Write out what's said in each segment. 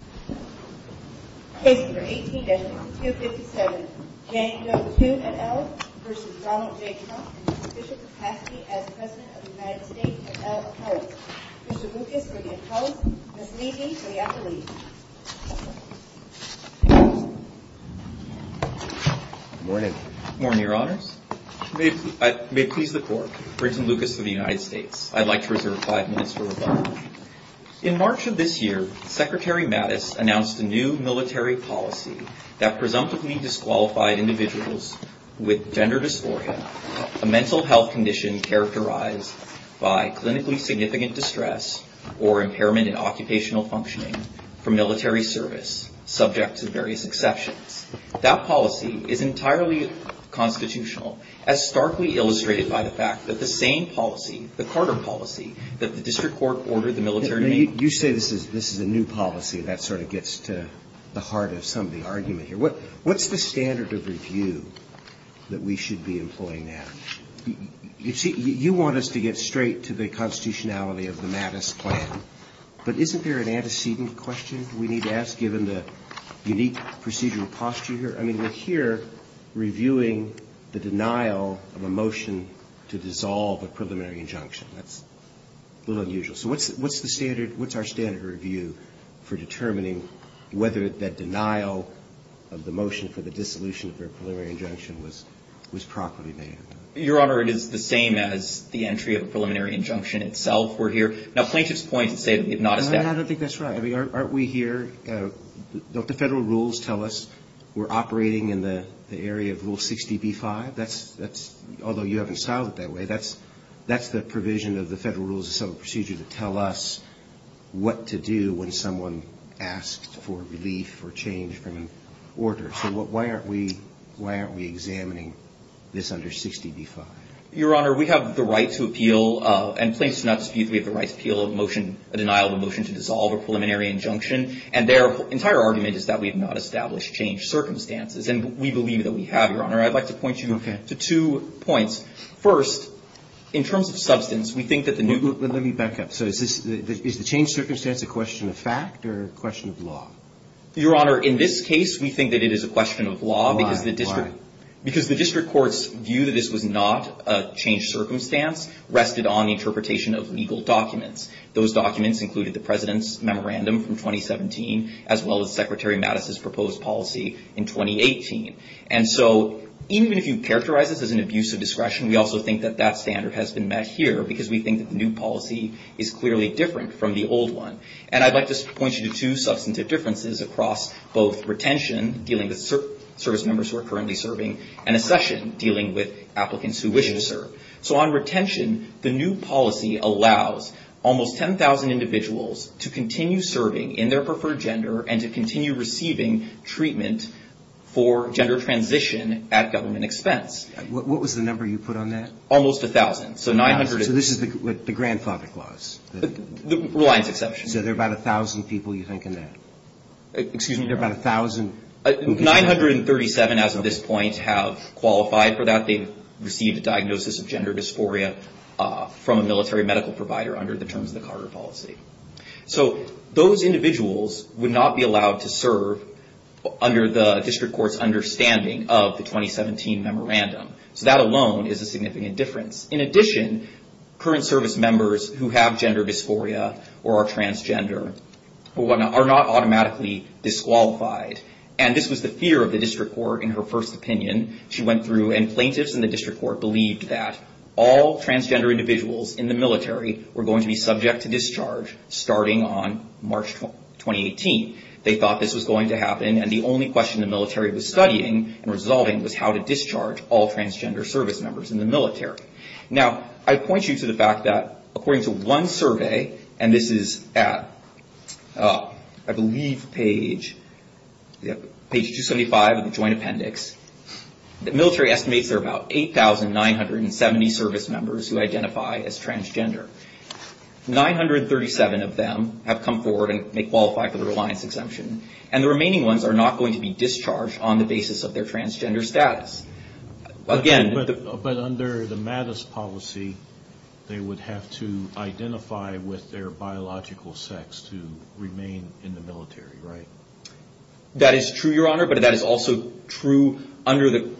in his official capacity as President of the United States, et al. appellate. Mr. Lucas, for the appellate, Ms. Levy, for the affiliate. Good morning. Good morning, Your Honors. May it please the Court, Brinton Lucas of the United States, I'd like to reserve five minutes for rebuttal. In March of this year, Secretary Mattis, announced a new military policy that presumptively disqualified individuals with gender dysphoria, a mental health condition characterized by clinically significant distress or impairment in occupational functioning from military service, subject to various exceptions. That policy is entirely constitutional, as starkly illustrated by the fact that the same policy, the Carter policy, that the District Court ordered the military... You say this is a new policy, and that sort of gets to the heart of some of the argument here. What's the standard of review that we should be employing now? You see, you want us to get straight to the constitutionality of the Mattis plan, but isn't there an antecedent question we need to ask given the unique procedural posture here? I mean, we're here reviewing the denial of a motion to dissolve a preliminary injunction. That's a little unusual. So what's our standard of review for determining whether that denial of the motion for the dissolution of a preliminary injunction was properly made? Your Honor, it is the same as the entry of a preliminary injunction itself were here. Now, plaintiffs point to say that if not established... I don't think that's right. Aren't we here... Don't the federal rules tell us we're operating in the area of Rule 60b-5? That's... Although you haven't styled it that way, that's the provision of the Federal Rules of Subtle Procedure to tell us what to do when someone asks for relief or change from an order. So why aren't we examining this under 60b-5? Your Honor, we have the right to appeal, and plaintiffs do not dispute that we have the right to appeal a motion, a denial of a motion to dissolve a preliminary injunction, and their entire argument is that we have not established changed circumstances, and we believe that we have, Your Honor. I'd like to point you to two points. First, in terms of substance, we think that the new... Let me back up. Is the changed circumstance a question of fact or a question of law? Your Honor, in this case, we think that it is a question of law because the district... Why? Because the district court's view that this was not a changed circumstance rested on the interpretation of legal documents. Those documents included the President's Memorandum from 2017, as well as Secretary Mattis' proposed policy in 2018. And so, even if you characterize this as an abuse of discretion, we also think that that standard has been met here because we think that the new policy is clearly different from the old one. And I'd like to point you to two substantive differences across both retention, dealing with service members who are currently serving, and accession, dealing with applicants who wish to serve. So on retention, the new policy allows almost 10,000 individuals to continue serving in their preferred gender and to continue receiving treatment for gender transition at government expense. What was the number you put on that? Almost 1,000. So 900... So this is the grandfather clause? Reliance exception. So there are about 1,000 people you think in that? Excuse me, there are about 1,000... 937, as of this point, have qualified for that. They've received a diagnosis of gender dysphoria from a military medical provider under the terms of the Carter policy. So those individuals would not be allowed to serve under the district court's understanding of the 2017 memorandum. So that alone is a significant difference. In addition, current service members who have gender dysphoria or are transgender are not automatically disqualified. And this was the fear of the district court in her first opinion. She went through, and plaintiffs in the district court believed that all transgender individuals in the military were going to be subject to discharge starting on March 2018. They thought this was going to happen, and the only question the military was studying and resolving was how to discharge all transgender service members in the military. Now, I point you to the fact that, according to one survey, and this is at I believe page... page 275 of the Joint Appendix, the military estimates there are about 8,970 service members who identify as transgender. 937 of them have come forward and qualified for the reliance exemption, and the remaining ones are not going to be discharged on the basis of their transgender status. Again... But under the Mattis policy, they would have to identify with their biological sex to remain in the military, right? That is true, Your Honor, but that is also true under the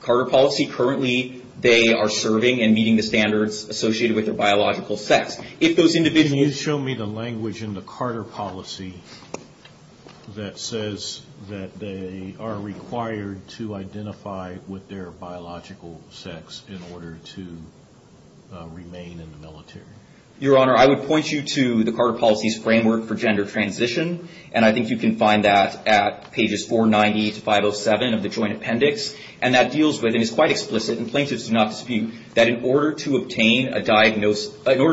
Carter policy. Currently, they are serving and associated with their biological sex. If those individuals... Can you show me the language in the Carter policy that says that they are required to identify with their biological sex in order to remain in the military? Your Honor, I would point you to the Carter policy's framework for gender transition, and I think you can find that at pages 490 to 507 of the Joint Appendix, and that deals with, and is quite explicit, and plaintiffs do not diagnose... In order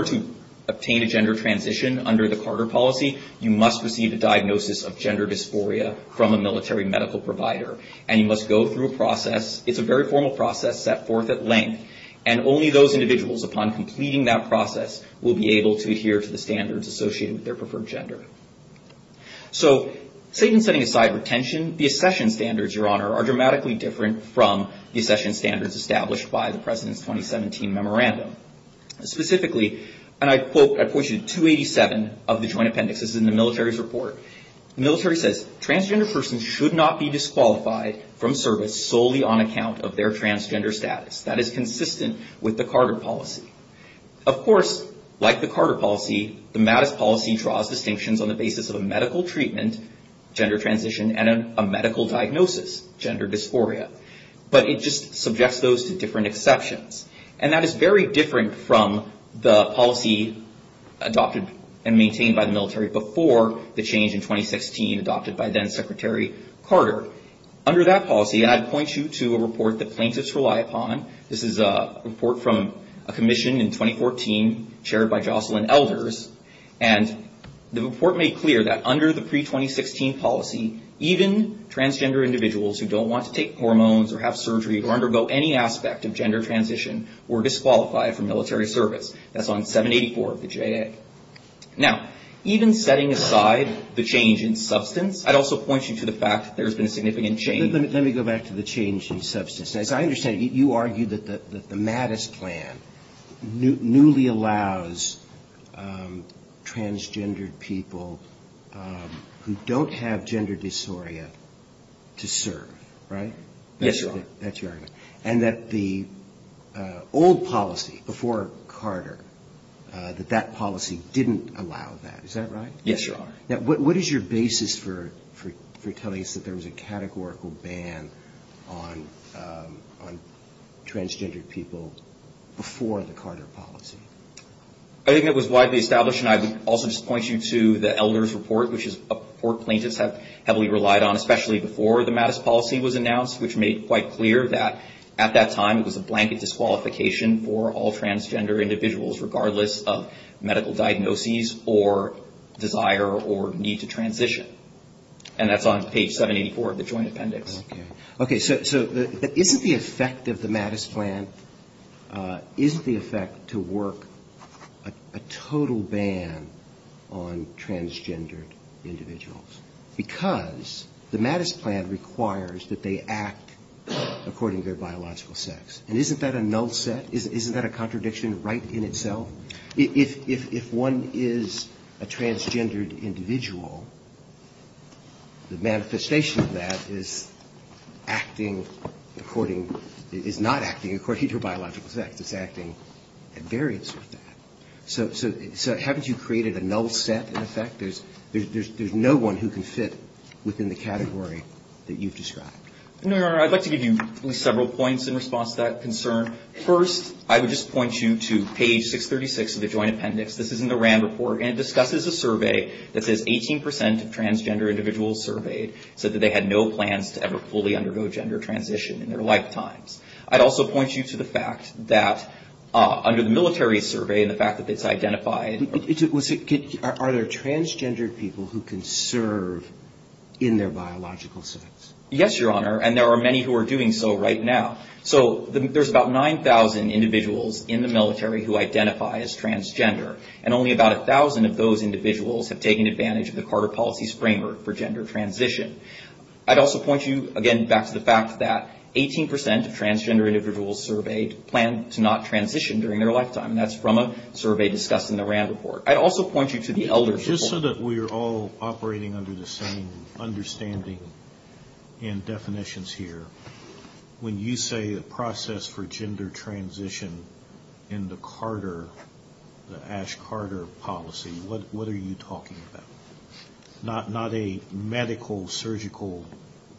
to obtain a gender transition under the Carter policy, you must receive a diagnosis of gender dysphoria from a military medical provider, and you must go through a process... It's a very formal process set forth at length, and only those individuals, upon completing that process, will be able to adhere to the standards associated with their preferred gender. So, Satan setting aside retention, the accession standards, Your Honor, are dramatically different from the accession standards established by the President's 2017 Memorandum. Specifically, and I'd quote... I'd point you to 287 of the Joint Appendix. This is in the military's report. The military says, Transgender persons should not be disqualified from service solely on account of their transgender status. That is consistent with the Carter policy. Of course, like the Carter policy, the Mattis policy draws distinctions on the basis of a medical treatment, gender transition, and a medical diagnosis, gender dysphoria. But it just subjects those to different exceptions. And that is very different from the policy adopted and maintained by the military before the change in 2016 adopted by then-Secretary Carter. Under that policy, and I'd point you to a report that plaintiffs rely upon. This is a report from a commission in 2014, chaired by Jocelyn Elders, and the report made clear that under the pre-2016 policy, even transgender individuals who don't want to take hormones or have surgery or undergo any aspect of gender transition were disqualified from military service. That's on 784 of the JA. Now, even setting aside the change in substance, I'd also point you to the fact that there's been a significant change. Let me go back to the change in substance. As I understand it, you argue that the Mattis plan newly allows transgender people who don't have gender dysphoria to serve, right? Yes, Your Honor. And that the old policy before Carter, that that policy didn't allow that. Is that right? Yes, Your Honor. Now, what is your basis for telling us that there was a categorical ban on transgender people before the Carter policy? I think it was widely established, and I would also just point you to the Elders report, which is heavily relied on, especially before the Mattis policy was announced, which made quite clear that at that time, it was a blanket disqualification for all transgender individuals, regardless of medical diagnoses or desire or need to transition. And that's on page 784 of the Joint Appendix. Okay, so isn't the effect of the Mattis plan, isn't the effect to work a total ban on transgender individuals? Because the Mattis plan requires that they act according to their biological sex. And isn't that a null set? Isn't that a contradiction right in itself? If one is a transgendered individual, the manifestation of that is acting according, is not acting according to biological sex. It's acting at variance with that. So haven't you created a null set, in effect? There's no one who can fit within the category that you've described. No, Your Honor. I'd like to give you at least several points in response to that concern. First, I would just point you to page 636 of the Joint Appendix. This is in the RAND report, and it discusses a survey that says 18 percent of transgender individuals surveyed said that they had no plans to ever fully undergo gender transition in their lifetimes. I'd also point you to the fact that under the military survey and the fact that it's identified... Are there transgendered people who can serve in their biological sex? Yes, Your Honor, and there are many who are doing so right now. So there's about 9,000 individuals in the military who identify as transgender, and only about 1,000 of those individuals have taken advantage of the Carter Policy's framework for gender transition. I'd also point you, again, back to the fact that 18 percent of transgender individuals surveyed planned to not transition during their lifetime, and that's from a survey discussed in the RAND report. I'd also point you to the elders report. Just so that we're all operating under the same understanding and definitions here, when you say the process for gender transition in the Carter, the Ash Carter Policy, what are you talking about? Not a medical, surgical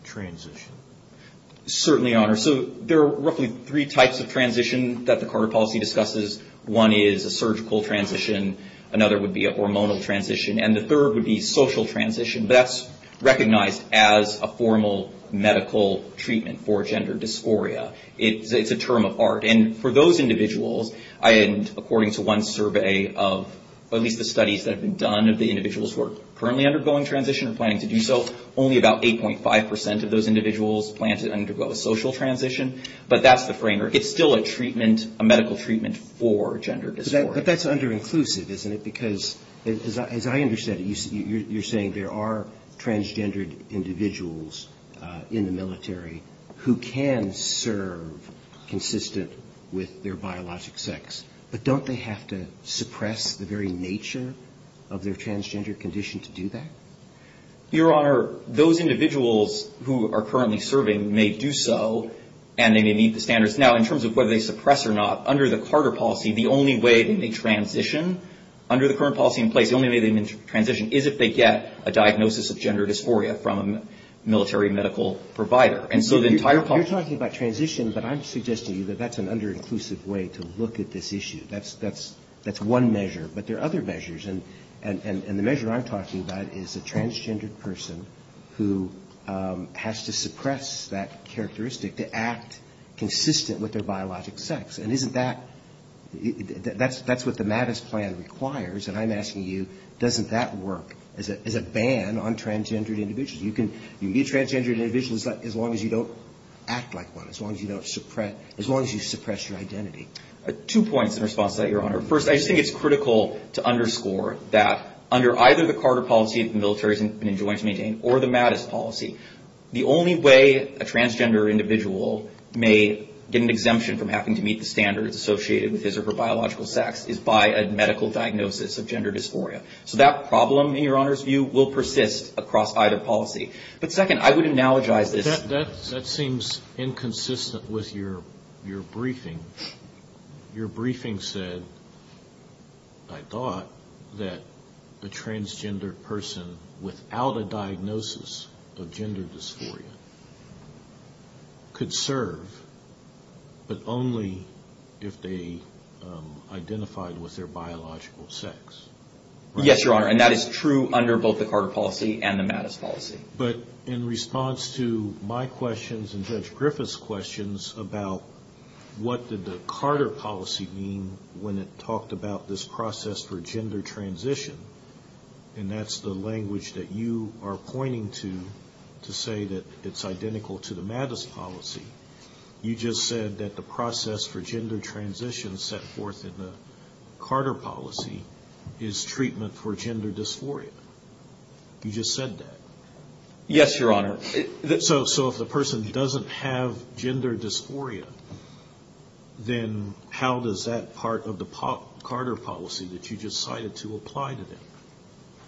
transition? Certainly, Your Honor. So there are roughly three types of transition that the Carter Policy discusses. One is a surgical transition, another would be a hormonal transition, and the third would be social transition, but that's recognized as a formal medical treatment for gender dysphoria. It's a term of art, and for those individuals, according to one survey of at least the studies that have been done of the individuals who are currently undergoing transition or planning to do so, only about 8.5 percent of those individuals plan to undergo a social transition, but that's the framework. It's still a treatment, a medical treatment for gender dysphoria. But that's under-inclusive, isn't it? Because as I understand it, you're saying there are transgendered individuals in the military who can serve consistent with their biologic sex, but don't they have to suppress the very nature of their transgender condition to do that? Your Honor, those individuals who are currently serving may do so, and they may meet the standards. Now, in terms of whether they suppress or not, under the Carter policy, the only way they may transition, under the current policy in place, the only way they may transition is if they get a diagnosis of gender dysphoria from a military medical provider. And so the entire... You're talking about transition, but I'm suggesting to you that that's an under-inclusive way to look at this issue. That's one measure, but there are other measures, and the measure I'm talking about is a transgendered individual who has to suppress that characteristic to act consistent with their biologic sex. And isn't that... That's what the MADIS plan requires, and I'm asking you, doesn't that work as a ban on transgendered individuals? You can be a transgendered individual as long as you don't act like one, as long as you suppress your identity. Two points in response to that, Your Honor. First, I just think it's critical to underscore that under either the MADIS policy or the MADIS policy, the only way a transgendered individual may get an exemption from having to meet the standards associated with his or her biological sex is by a medical diagnosis of gender dysphoria. So that problem, in Your Honor's view, will persist across either policy. But second, I would analogize this... That seems inconsistent with your briefing. Your briefing said, I thought, that a transgendered person without a diagnosis of gender dysphoria could serve, but only if they identified with their biological sex. Yes, Your Honor. And that is true under both the Carter policy and the MADIS policy. But in response to my questions and Judge Griffith's questions about what did the Carter policy mean when it talked about this process for gender transition, and that's the language that you are pointing to to say that it's identical to the MADIS policy, you just said that the process for gender transition set forth in the Carter policy is treatment for gender dysphoria. You just said that. Yes, Your Honor. So if the person doesn't have gender dysphoria, then how does that part of the Carter policy that you just cited to apply to them?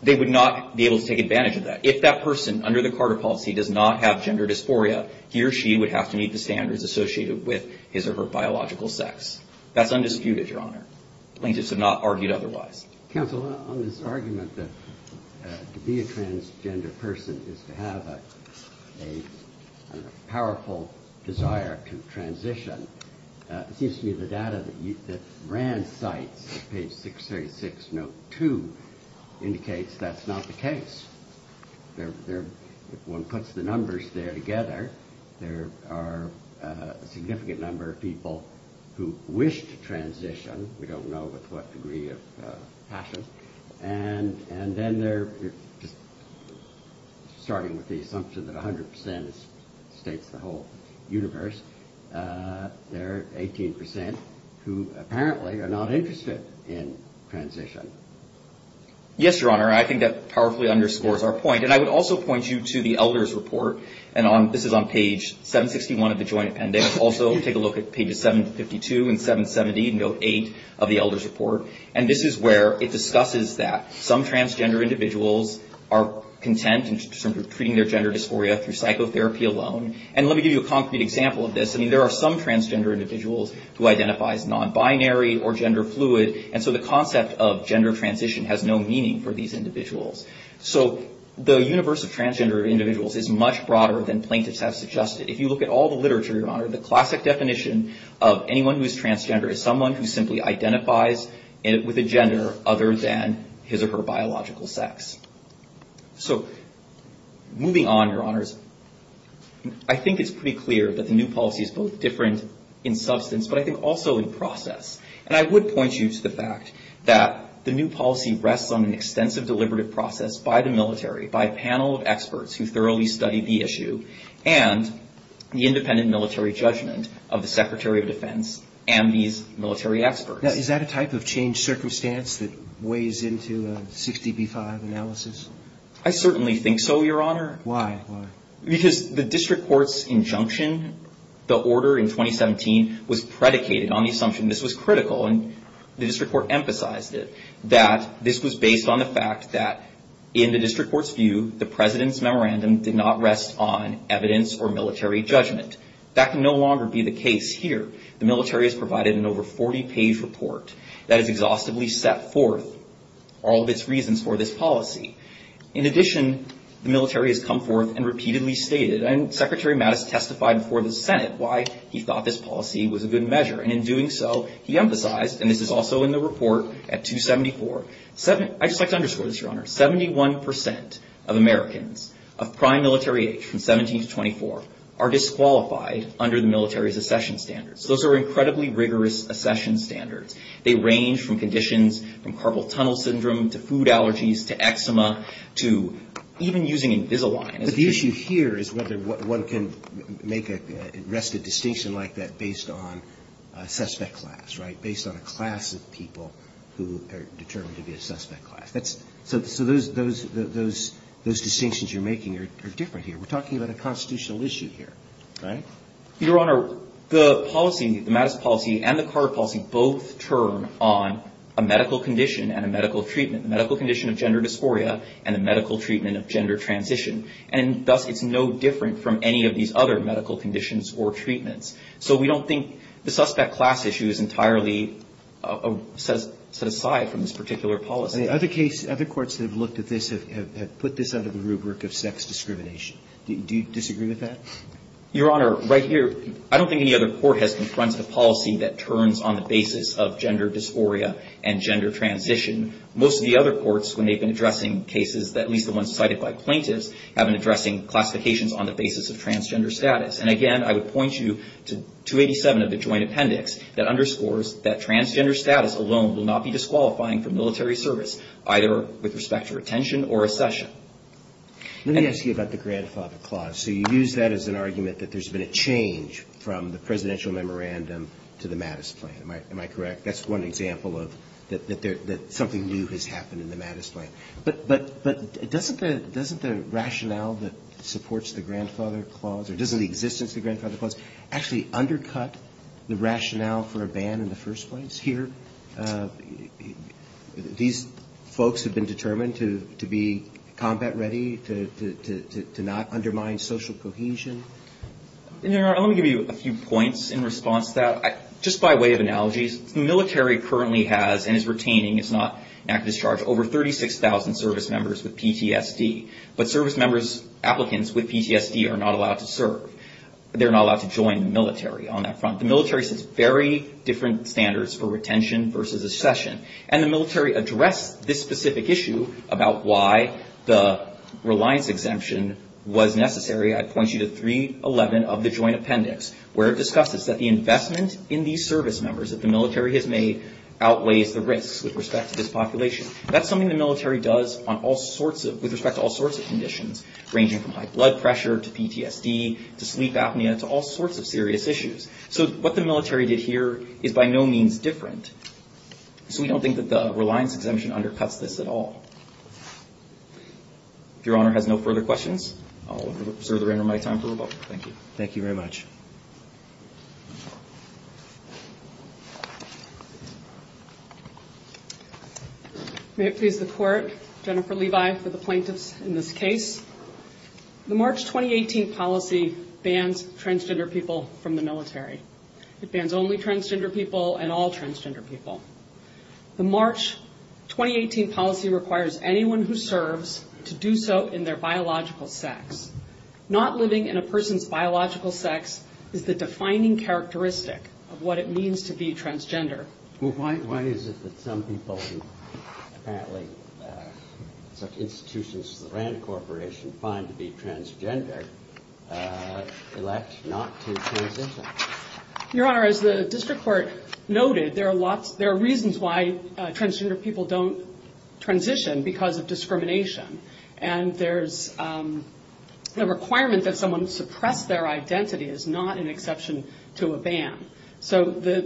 They would not be able to take advantage of that. If that person, under the Carter policy, does not have gender dysphoria, he or she would have to meet the standards associated with his or her biological sex. That's undisputed, Your Honor. Plaintiffs have not argued otherwise. Counsel, on this argument that to be a transgender person is to have a powerful desire to transition, it seems to me the data that Rand cites, page 636, note 2, indicates that's not the case. If one puts the numbers there together, there are a significant number of people who wish to transition, we don't know with what degree of passion, and then they're just starting with the assumption that 100% states the whole universe. There are 18% who apparently are not interested in transition. Yes, Your Honor, I think that powerfully underscores our point. And I would also point you to the Elder's Report, and this is on page 761 of the Joint Appendix. Also, take a look at pages 752 and 770, note 8 of the Elder's Report. And this is where it discusses that some transgender individuals are content in terms of treating their gender dysphoria through psychotherapy alone. And let me give you a concrete example of this. There are some transgender individuals who identify as nonbinary or gender fluid, and so the concept of gender transition has no meaning for these individuals. So, the universe of transgender individuals is much broader than plaintiffs have suggested. If you look at all the literature, Your Honor, the classic definition of anyone who is transgender is someone who simply identifies with a gender other than his or her biological sex. So, moving on, Your Honors, I think it's pretty clear that the new policy is both different in substance, but I think also in process. And I would point you to the fact that the new policy rests on an extensive deliberative process by the military, by a panel of experts who thoroughly study the issue, and the independent military judgment of the Secretary of Defense and these military experts. Now, is that a type of changed circumstance that weighs into 60b-5 analysis? I certainly think so, Your Honor. Why? Because the District Court's injunction, the order in 2017, was predicated on the assumption, and this was critical, and the District Court emphasized it, that this was based on the fact that, in the District Court's view, the President's memorandum did not rest on evidence or military judgment. That can no longer be the case here. The military has provided an over 40-page report that has exhaustively set forth all of its reasons for this policy. In addition, the military has come forth and repeatedly stated, and Secretary Mattis testified before the Senate why he thought this policy was a good measure, and in doing so, he emphasized, and this is also in the report at 274, I'd just like to underscore this, Your Honor, 71% of Americans of prime military age from 17 to 24 are disqualified under the military's accession standards. Those are incredibly rigorous accession standards. They range from conditions, from Carpal Tunnel Syndrome to food allergies to eczema to even using Invisalign as a treatment. But the issue here is whether one can make a restive distinction like that based on a suspect class, right? Based on a class of people who are determined to be a suspect class. So those distinctions you're making are different here. We're talking about a constitutional issue here, right? Your Honor, the policy, the Mattis policy and the other courts have looked at this and put this under the rubric of sex discrimination. Do you disagree with that? Your Honor, right here, I don't think any other court has confronted a policy that Your Honor, right here, I don't think any other court has confronted a policy that and gender transition. Most of the other courts, when they've been addressing cases that at least the ones cited by plaintiffs have been addressing classifications on the basis of transgender status. And again, I would point you to 287 of the Joint Appendix that underscores that transgender status alone will not be disqualifying from military service, either with respect to retention or accession. Let me ask you about the Grandfather Clause. So you use that as an argument that there's been a change from the Presidential Memorandum to the Mattis Plan. Am I correct? That's one example of that something new has happened in the Mattis Plan. But doesn't the rationale that supports the Grandfather Clause, or doesn't the existence of the Grandfather Clause actually undercut the rationale for a ban in the first place? Here, these folks have been determined to be combat ready, to not undermine social cohesion. Your Honor, let me give you a few points in response to that. Just by way of analogies, the military currently has and is retaining, it's not over 36,000 service members with PTSD. But service members applicants with PTSD are not allowed to serve. They're not allowed to join the military on that front. The military has very different standards for retention versus accession. And the military addressed this specific issue about why the reliance exemption was necessary. I'd point you to 311 of the Joint Appendix, where it discusses that the investment in these service members that the military has made outweighs the risks with respect to this population. That's something the military does with respect to all sorts of conditions, ranging from high blood pressure to PTSD to sleep apnea to all sorts of serious issues. So what the military did here is by no means different. So we don't think that the reliance exemption undercuts this at all. If Your Honor has no further questions, I'll reserve the remainder of my time for rebuttal. Thank you. Thank you very much. May it please the Court, Jennifer Levi for the plaintiffs in this case. The March 2018 policy bans transgender people from the military. It bans only transgender people and all transgender people. The March 2018 policy requires anyone who serves to do so in their biological sex. Not living in a person's biological sex is the defining characteristic of what it means to be transgender. Your Honor, as the District Court noted, there are reasons why transgender people don't transition because of discrimination. And there's the requirement that someone suppress their identity is not an exception to a ban. So the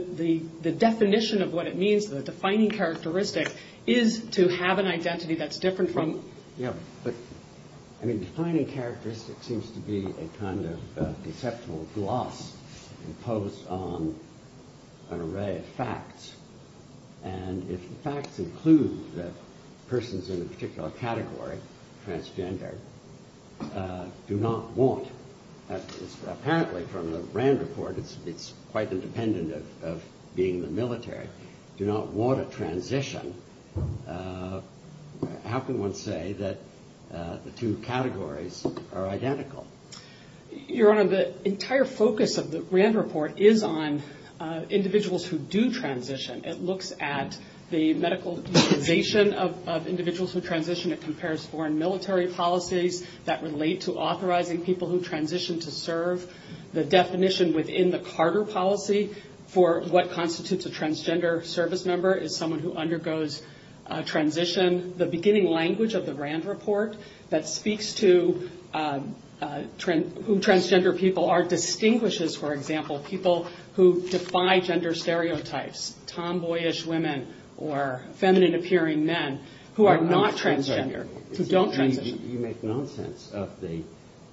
definition of what it means, the defining characteristic, is to have an identity that's different from... Defining characteristic seems to be a kind of deceptive gloss imposed on an array of facts. And if the facts include that persons in a particular category, transgender, do not want apparently from the RAND report, it's quite independent of being in the military, do not want a transition, how can one say that the two categories are identical? Your Honor, the entire focus of the RAND report is on individuals who do transition. It looks at the medical utilization of individuals who transition. It compares foreign military policies that relate to authorizing people who transition to serve. The definition within the Carter policy for what constitutes a transgender service member is someone who undergoes transition. The beginning language of the RAND report that speaks to who transgender people are distinguishes, for example, people who defy gender stereotypes, tomboyish women, or feminine appearing men, who are not transgender, who don't transition. You make nonsense of the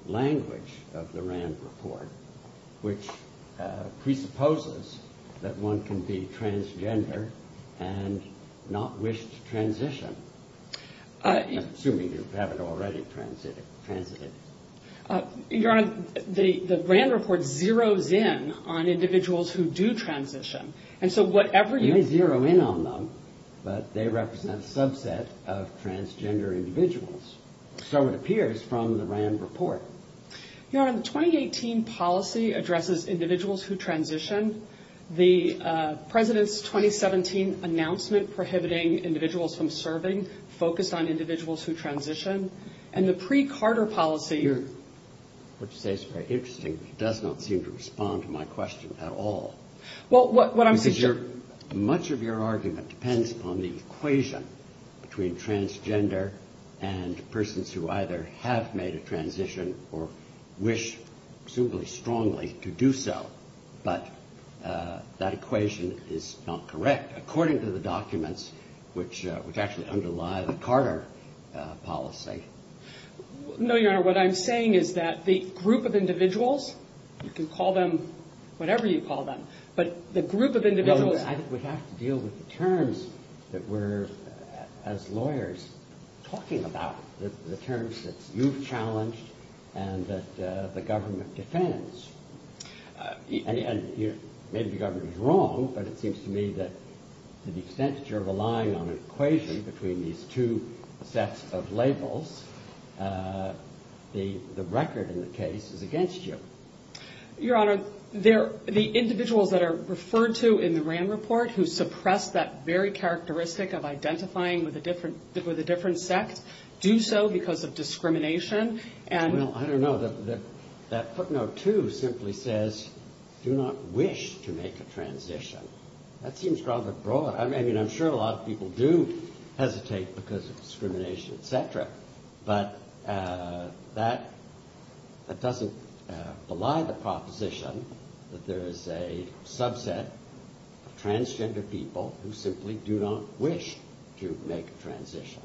language of the RAND report, which presupposes that one can be transgender and not wish to transition, assuming you haven't already transited. Your Honor, the RAND report zeroes in on individuals who do transition. You may zero in on them, but they represent a subset of transgender individuals. So it appears from the RAND report. Your Honor, the 2018 policy addresses individuals who transition. The President's 2017 announcement prohibiting individuals from serving focused on individuals who transition. And the pre- Carter policy... Your Honor, what you say is very interesting, but it does not seem to respond to my question at all. Much of your argument depends on the equation between transgender and persons who either have made a transition or wish, presumably strongly, to do so. But that equation is not correct, according to the documents which actually underlie the Carter policy. No, Your Honor, what I'm saying is that the group of individuals, you can call them whatever you call them, but the group of individuals... No, I think we have to deal with the terms that we're, as lawyers, talking about, the terms that you've challenged and that the government defends. And maybe the government is wrong, but it seems to me that to the extent that you're relying on an equation between these two sets of labels, the record in the case is against you. Your Honor, the individuals that are referred to in the RAND report who suppress that very characteristic of identifying with a different sect do so because of discrimination and... Well, I don't know. That footnote, too, simply says do not wish to make a transition. That seems rather broad. I mean, I'm sure a lot of people do hesitate because of discrimination, et cetera, but that doesn't belie the proposition that there is a subset of transgender people who simply do not wish to make a transition.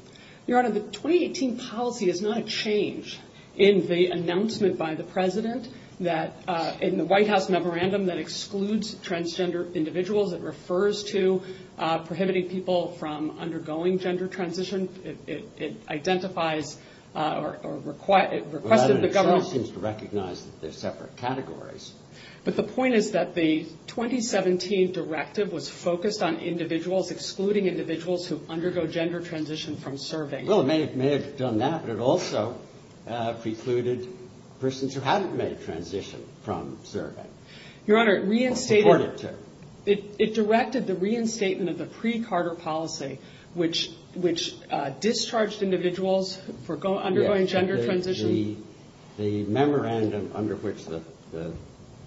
Your Honor, the 2018 policy is not a change in the announcement by the President that in the White House memorandum that excludes transgender individuals, it refers to prohibiting people from undergoing gender transition. It identifies or requested the government... Well, that in itself seems to recognize that they're separate categories. But the point is that the 2017 directive was focused on individuals, excluding individuals who undergo gender transition from serving. Well, it may have done that, but it also precluded persons who hadn't made a transition from serving. Your Honor, it reinstated... Or supported to. It directed the reinstatement of the pre-Carter policy, which discharged individuals for undergoing gender transition. The memorandum under which the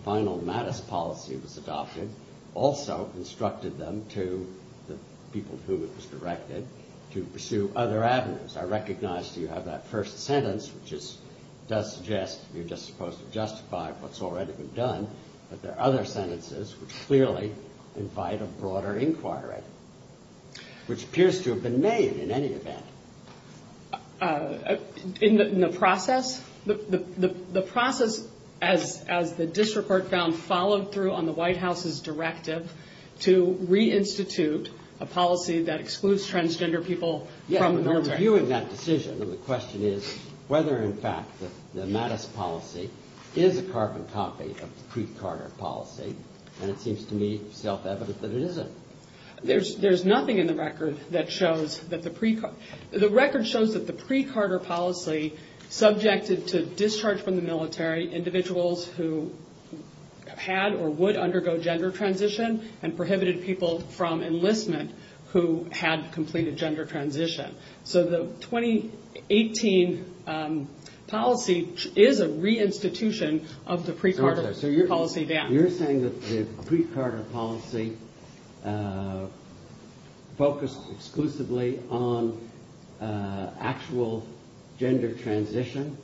final Mattis policy was adopted also instructed them to, the people to whom it was directed, to pursue other avenues. I recognize you have that first sentence, which does suggest you're just supposed to justify what's already been done, but there are other sentences which clearly invite a broader inquiry, which appears to have been made in any event. In the process? The process, as the district court found, followed through on the White House's directive to reinstitute a policy that excludes transgender people from the military. Yeah, but they're reviewing that decision and the question is whether in fact the Mattis policy is a carbon copy of the pre-Carter policy, and it seems to me self-evident that it isn't. There's nothing in the record that shows that the pre-Carter... The record shows that the pre-Carter policy subjected to discharge from the military individuals who had or would undergo gender transition, and prohibited people from enlistment who had completed gender transition. So the 2018 policy is a reinstitution of the pre-Carter policy. So you're saying that the pre-Carter policy focused exclusively on actual gender transition?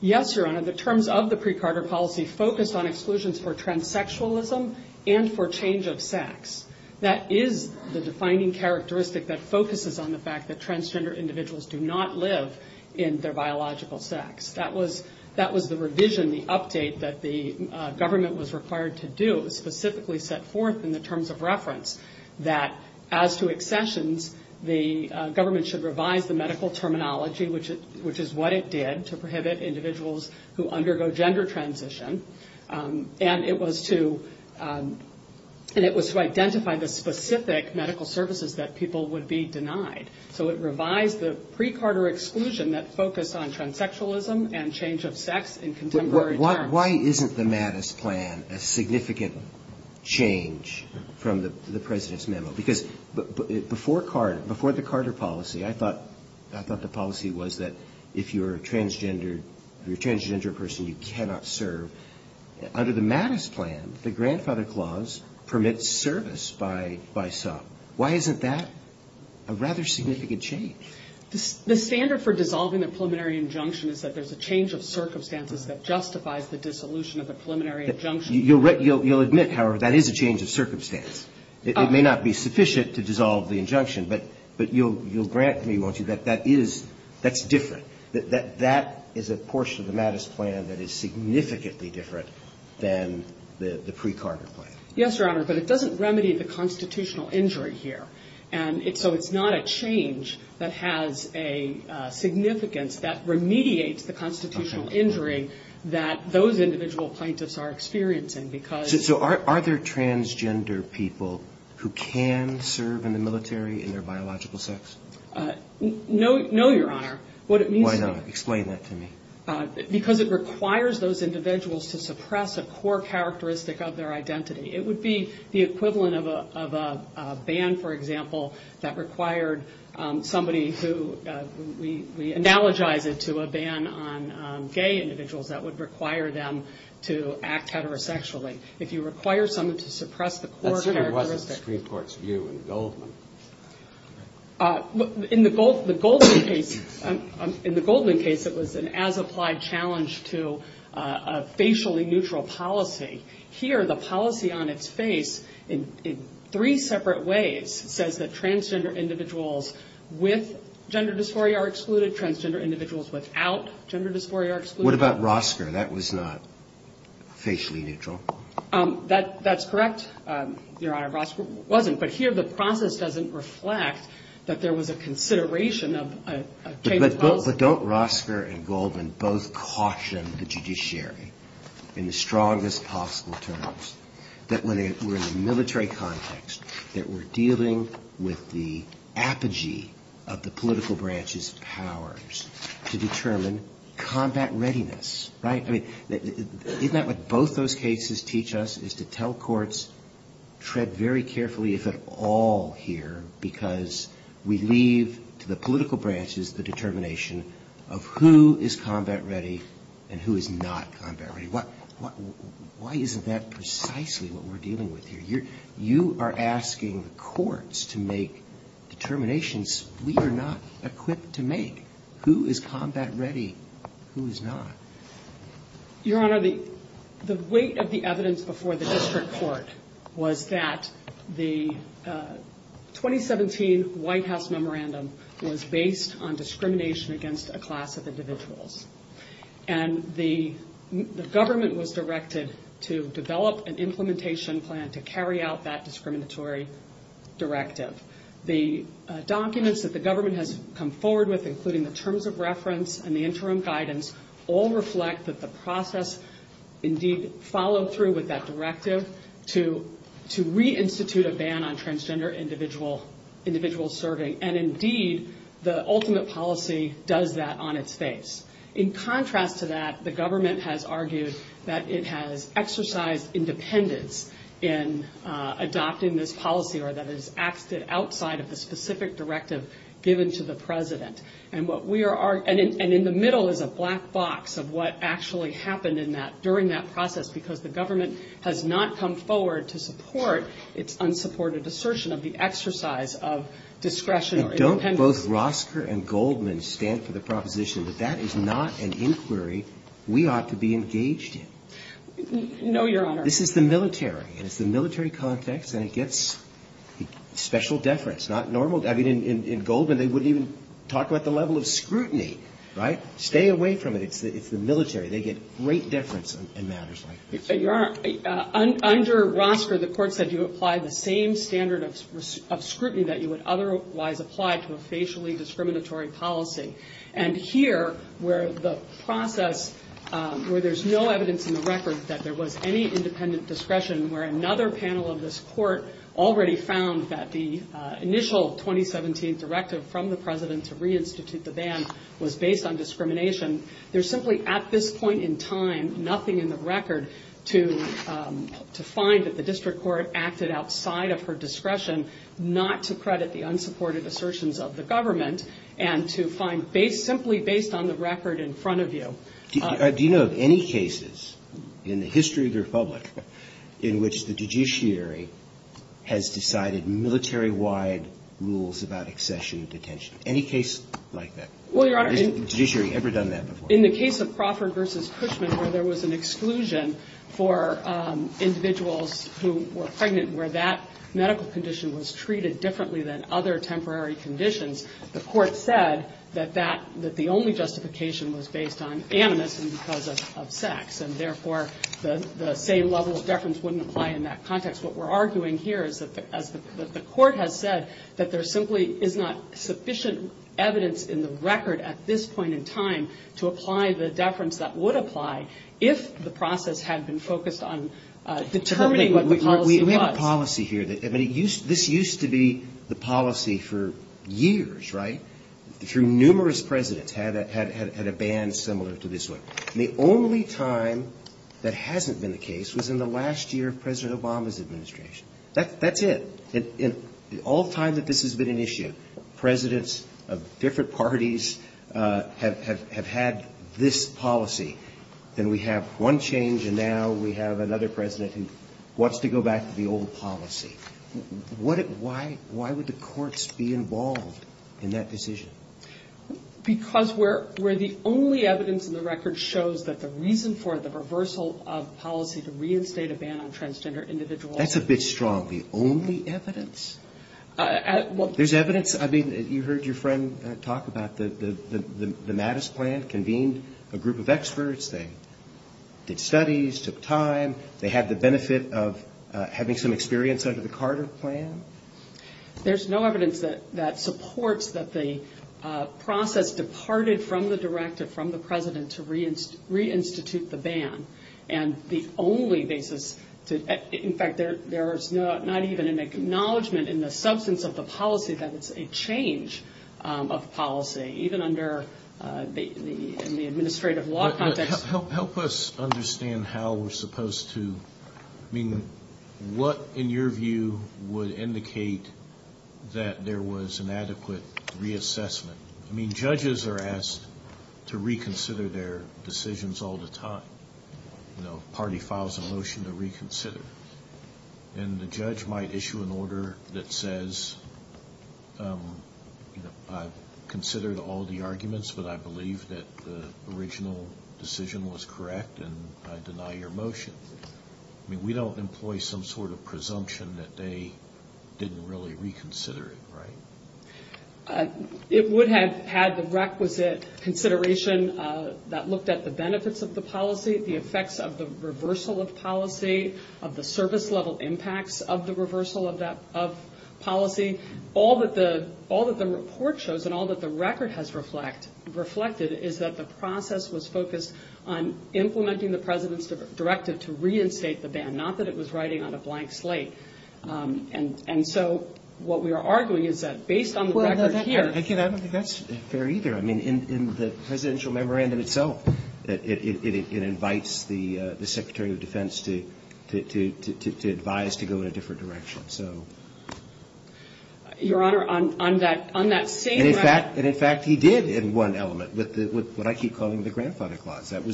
Yes, Your Honor. The terms of the pre-Carter policy focused on exclusions for transsexualism and for change of sex. That is the defining characteristic that focuses on the fact that transgender individuals do not live in their biological sex. That was the revision, the update that the government was required to do, specifically set forth in the terms of reference that as to accessions, the government should revise the medical terminology, which is what it did to prohibit individuals who undergo gender transition, and it was to identify the specific medical services that people would be eligible for. So it was a pre-Carter exclusion that focused on transsexualism and change of sex in contemporary terms. Why isn't the Mattis Plan a significant change from the President's memo? Because before the Carter policy, I thought the policy was that if you're a transgender person, you cannot serve. Under the Mattis Plan, the Grandfather Clause permits service by some. Why isn't that a rather significant change? The standard for dissolving the preliminary injunction is that there's a change of circumstances that justifies the dissolution of the preliminary injunction. You'll admit, however, that is a change of circumstance. It may not be sufficient to dissolve the injunction, but you'll grant me, won't you, that that is, that's different. That is a portion of the Mattis Plan that is significantly different than the pre-Carter plan. Yes, Your Honor, but it doesn't remedy the constitutional injury here. And so it's not a change that has a significance that remediates the constitutional injury that those individual plaintiffs are experiencing because... So are there transgender people who can serve in the military in their biological sex? No, Your Honor. What it means to me... Why not? Explain that to me. Because it requires those individuals to act heterosexually. It would be the equivalent of a ban, for example, that required somebody who, we analogize it to a ban on gay individuals that would require them to act heterosexually. If you require someone to suppress the core characteristic... That certainly wasn't the Supreme Court's view in Goldman. In the Goldman case, it was an as-applied challenge to a facially neutral policy. Here, the policy on its face, in three separate ways, says that transgender individuals with gender dysphoria are excluded, transgender individuals without gender dysphoria are excluded. What about Rosker? That was not facially neutral. That's correct, Your Honor. Rosker wasn't. But here, the process doesn't reflect that there was a consideration of a chamber's policy. But don't Rosker and Goldman both caution the judiciary in the strongest possible terms that when we're in the military context, that we're dealing with the apogee of the political branch's powers to determine combat readiness, right? Isn't that what both those cases teach us, is to tell courts, tread very carefully if at all here, because we leave to the political branches the determination of who is combat ready and who is not combat ready. Why isn't that precisely what we're dealing with here? You are asking the courts to make determinations we are not equipped to make. Who is combat ready? Who is not? Your Honor, the weight of the evidence before the district court was that the 2017 White House memorandum was based on discrimination against a class of individuals. The government was directed to develop an implementation plan to carry out that discriminatory directive. The documents that the government has come forward with, including the terms of reference and the interim guidance, all reflect that the process indeed followed through with that directive to reinstitute a ban on transgender individuals serving and indeed the ultimate policy does that on its face. In contrast to that the government has argued that it has exercised independence in adopting this policy or that it has acted outside of the specific directive given to the president. In the middle is a black box of what actually happened during that process because the government has not come forward to support its unsupported assertion of the exercise of discretion or independence. And don't both Rosker and Goldman stand for the proposition that that is not an inquiry we ought to be engaged in. No, Your Honor. This is the military and it's the military context and it gets special deference. Not normal. I mean in Goldman they wouldn't even talk about the level of scrutiny. Right? Stay away from it. It's the military. They get great deference in matters like this. Your Honor, under Rosker the court said you apply the same standard of scrutiny that you would otherwise apply to a facially discriminatory policy. And here where the process where there's no evidence in the record that there was any independent discretion where another panel of this court already found that the initial 2017 directive from the president to reinstitute the ban was based on discrimination. There's simply at this point in time nothing in the record to to find that the district court acted outside of her discretion not to credit the unsupported assertions of the government and to find based simply based on the record in front of you. Do you know of any cases in the history of the Republic in which the judiciary has decided military-wide rules about accession and detention? Any case like that? Well, Your Honor. Has the judiciary ever done that before? In the case of Crawford v. Cushman where there was an exclusion for individuals who were pregnant where that medical condition was treated differently than other temporary conditions the court said that the only justification was based on amnesty because of sex and therefore the same level of deference wouldn't apply in that context. What we're arguing here is that the court has said that there simply is not sufficient evidence in the record at this point in time to apply the executive order. that this is a case where the process had been focused on determining what the policy was. We have a policy here. This used to be the policy for years, right? Through numerous presidents had a ban similar to this one. The only time that hasn't been the case was in the last year of President Obama's administration. That's it. All the time that this has been an issue, presidents of different parties have had this policy. Then we have one change and now we have another president who wants to go back to the old policy. Why would the courts be involved in that decision? Because we're the only evidence in the record shows that the reason for the reversal of policy to reinstate a ban on transgender individuals. That's a bit strong. The only evidence? There's evidence? I mean, you heard your friend talk about the Mattis plan, convened a group of experts, they did studies, took time, they had the benefit of having some experience under the Carter plan? There's no evidence that supports that the process departed from the director from the president to reinstitute the ban. And the fact that there's not even an acknowledgment in the substance of the policy that it's a change of policy, even under the administrative law context. Help us understand how we're supposed to I mean, what in your view would indicate that there was an adequate reassessment? I mean, judges are asked to reconsider their decisions all the time. You know, party files a motion to reconsider. And the judge might issue an order that says I've considered all the arguments, but I believe that the original decision was correct, and I deny your motion. I mean, we don't employ some sort of presumption that they didn't really reconsider it, right? It would have had the requisite consideration that looked at the benefits of the policy, the effects of the reversal of policy, of the service level impacts of the reversal of policy. All that the report shows and all that the record has reflected is that the process was focused on implementing the president's directive to reinstate the ban, not that it was writing on a blank slate. And so what we are arguing is that based on the record here... The original memorandum itself invites the Secretary of Defense to advise to go in a different direction. So... Your Honor, on that same... And in fact, he did in one element with what I keep calling the grandfather clause. That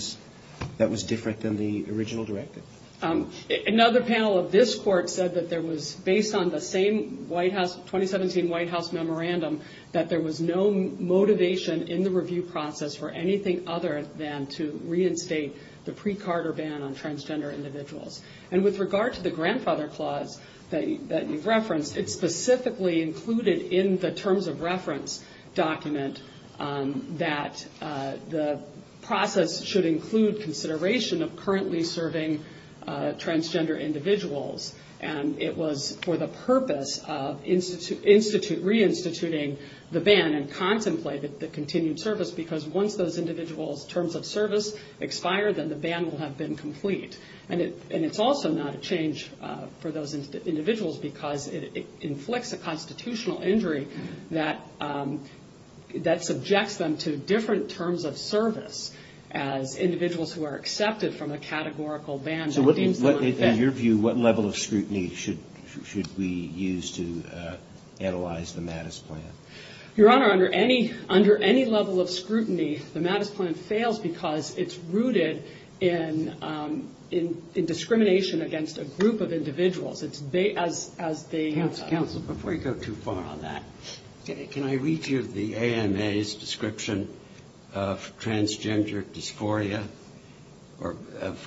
was different than the original directive. Another panel of this court said that there was, based on the same White House, 2017 White House memorandum, that there was no anything other than to reinstate the pre-Carter ban on transgender individuals. And with regard to the grandfather clause that you referenced, it specifically included in the terms of reference document that the process should include consideration of currently serving transgender individuals. And it was for the purpose of reinstituting the ban and contemplated the continued service because once those individuals' terms of service expire, then the ban will have been complete. And it's also not a change for those individuals because it inflicts a constitutional injury that subjects them to different terms of service as individuals who are accepted from a categorical ban that deems them... In your view, what level of scrutiny should we use to analyze the Mattis plan? Your Honor, under any level of scrutiny, the Mattis plan fails because it's rooted in discrimination against a group of individuals. Counsel, before you go too far on that, can I read you the AMA's description of transgender dysphoria or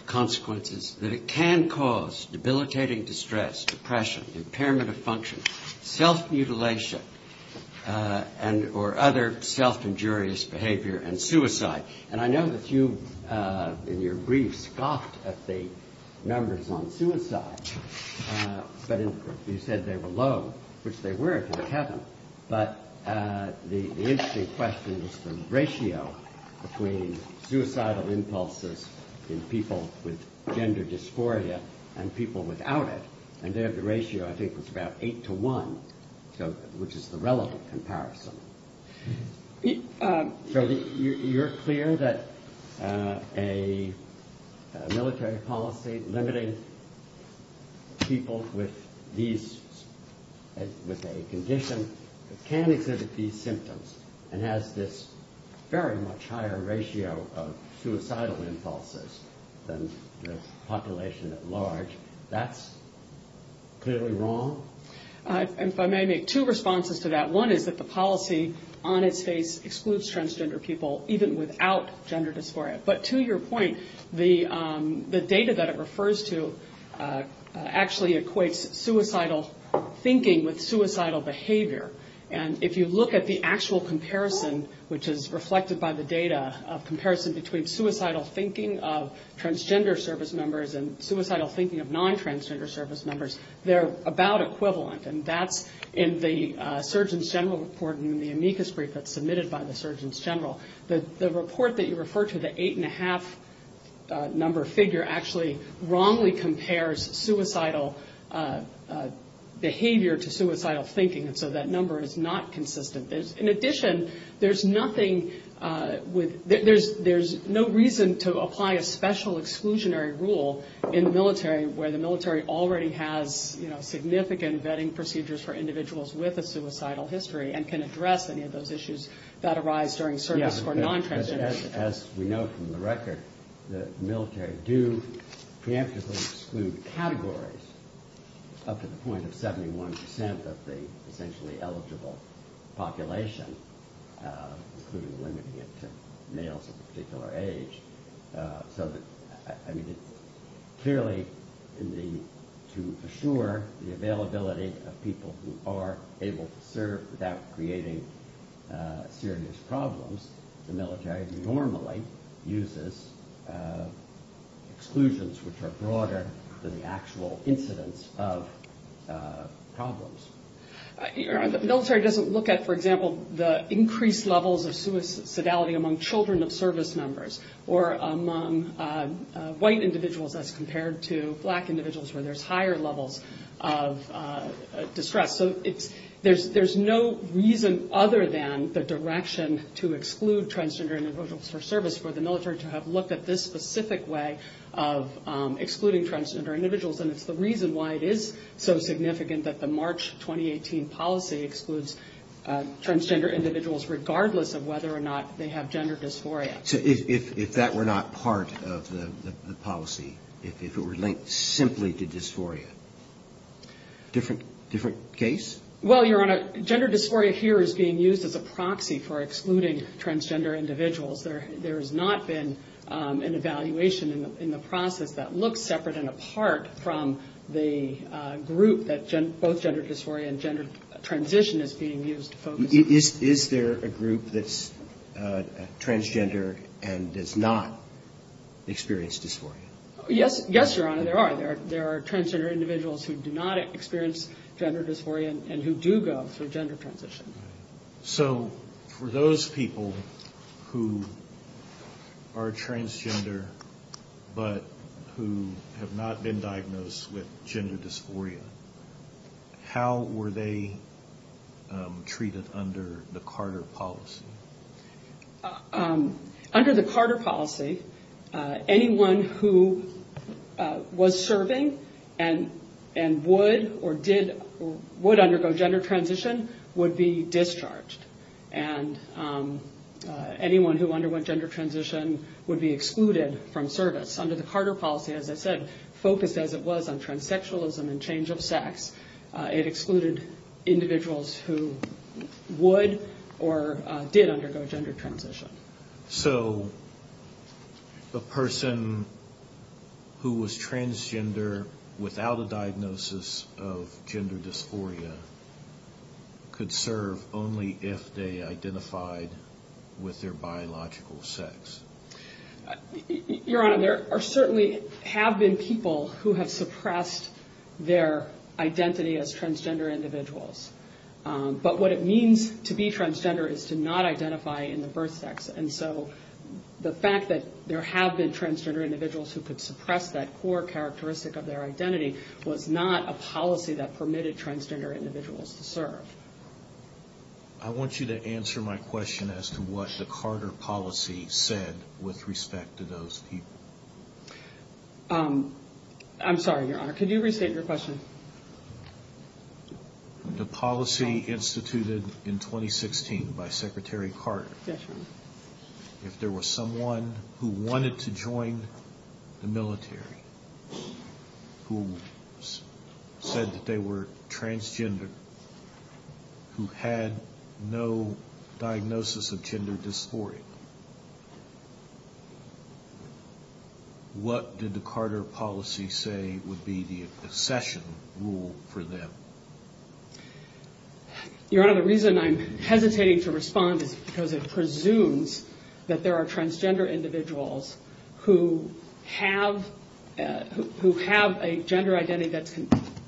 consequences that it can cause debilitating distress, depression, impairment of function, self-mutilation, or other self-injurious behavior, and suicide. And I know that you in your brief scoffed at the numbers on suicide, but you said they were low, which they were if it happened, but the interesting question is the ratio between suicidal impulses in people with gender dysphoria and people without it. And there the ratio, I think, was about 8 to 1, which is the relevant comparison. You're clear that a military policy limiting people with these... with a condition that can exhibit these symptoms and has this very much higher ratio of suicidal impulses than the population at large. That's clearly wrong? If I may make two responses to that. One is that the policy on its face excludes transgender people, even without gender dysphoria. But to your point, the data that it refers to actually equates suicidal thinking with suicidal behavior. And if you look at the actual comparison, which is reflected by the data of comparison between suicidal thinking of non-transgender service members, they're about equivalent. And that's in the Surgeon's General Report and the amicus brief that's submitted by the Surgeon's General. The report that you refer to, the 8.5 number figure, actually wrongly compares suicidal behavior to suicidal thinking. And so that number is not consistent. In addition, there's nothing with... there's no reason to apply a special exclusionary rule in the military where the military already has significant vetting procedures for individuals with a suicidal history and can address any of those issues that arise during service for non-transgender individuals. As we know from the record, the military do preemptively exclude categories up to the point of 71% of the essentially eligible population, including limiting it to males of a particular age, so that... clearly to assure the availability of people who are able to serve without creating serious problems, the military normally uses exclusions which are broader than the actual incidence of problems. The military doesn't look at, for example, the increased levels of suicidality among children of service members, or among white individuals as compared to black individuals where there's higher levels of distress. There's no reason other than the direction to exclude transgender individuals for service for the military to have looked at this specific way of excluding transgender individuals, and it's the reason why it is so significant that the March 2018 policy excludes transgender individuals regardless of whether or not they have gender dysphoria. So if that were not part of the policy, if it were linked simply to dysphoria, different case? Well, Your Honor, gender dysphoria here is being used as a proxy for excluding transgender individuals. There has not been an evaluation in the process that looks separate and apart from the group that both gender dysphoria and gender transition is being used to focus on. Is there a group that's transgender and does not experience dysphoria? Yes, Your Honor, there are. There are transgender individuals who do not experience gender dysphoria and who do go through gender transition. So for those people who are transgender but who have not been diagnosed with gender dysphoria, how were they treated under the Carter policy? Under the Carter policy, anyone who was serving and would or did would undergo gender transition would be discharged. And anyone who underwent gender transition would be excluded from service. Under the Carter policy, as I said, focused as it was on transsexualism and change of sex. It excluded individuals who would or did undergo gender transition. So the person who was transgender without a diagnosis of gender dysphoria could serve only if they identified with their biological sex. Your Honor, there certainly have been people who have suppressed their identity as transgender individuals. But what it means to be transgender is to not identify in the birth sex. And so the fact that there have been transgender individuals who could suppress that core characteristic of their identity was not a policy that permitted transgender individuals to serve. I want you to answer my question as to what the Carter policy said with respect to those people. I'm sorry, Your Honor. Could you restate your question? The policy instituted in 2016 by Secretary Carter. If there was someone who wanted to join the military who said that they were transgender who had no diagnosis of gender dysphoria, what did the Carter policy say would be the accession rule for them? Your Honor, the reason I'm hesitating to respond is because it presumes that there are transgender individuals who have a gender identity that's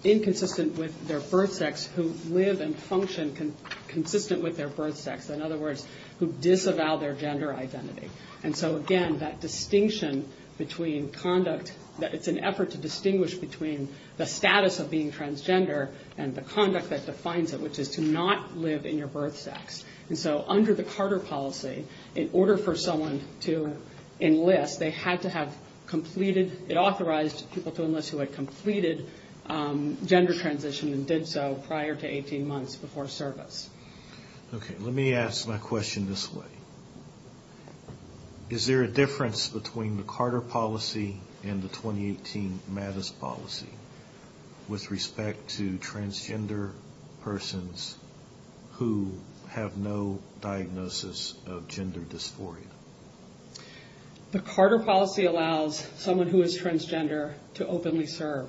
inconsistent with their birth sex, who live and function consistent with their birth sex. In other words, who disavow their gender identity. Again, that distinction between conduct, that it's an effort to distinguish between the status of being transgender and the conduct that defines it, which is to not live in your birth sex. Under the Carter policy, in order for someone to enlist, they had to have completed, it authorized people to enlist who had completed gender transition and did so prior to 18 months before service. Okay, let me ask my question this way. Is there a difference between the Carter policy and the 2018 MADIS policy with respect to transgender persons who have no diagnosis of gender dysphoria? The Carter policy allows someone who is transgender to openly serve,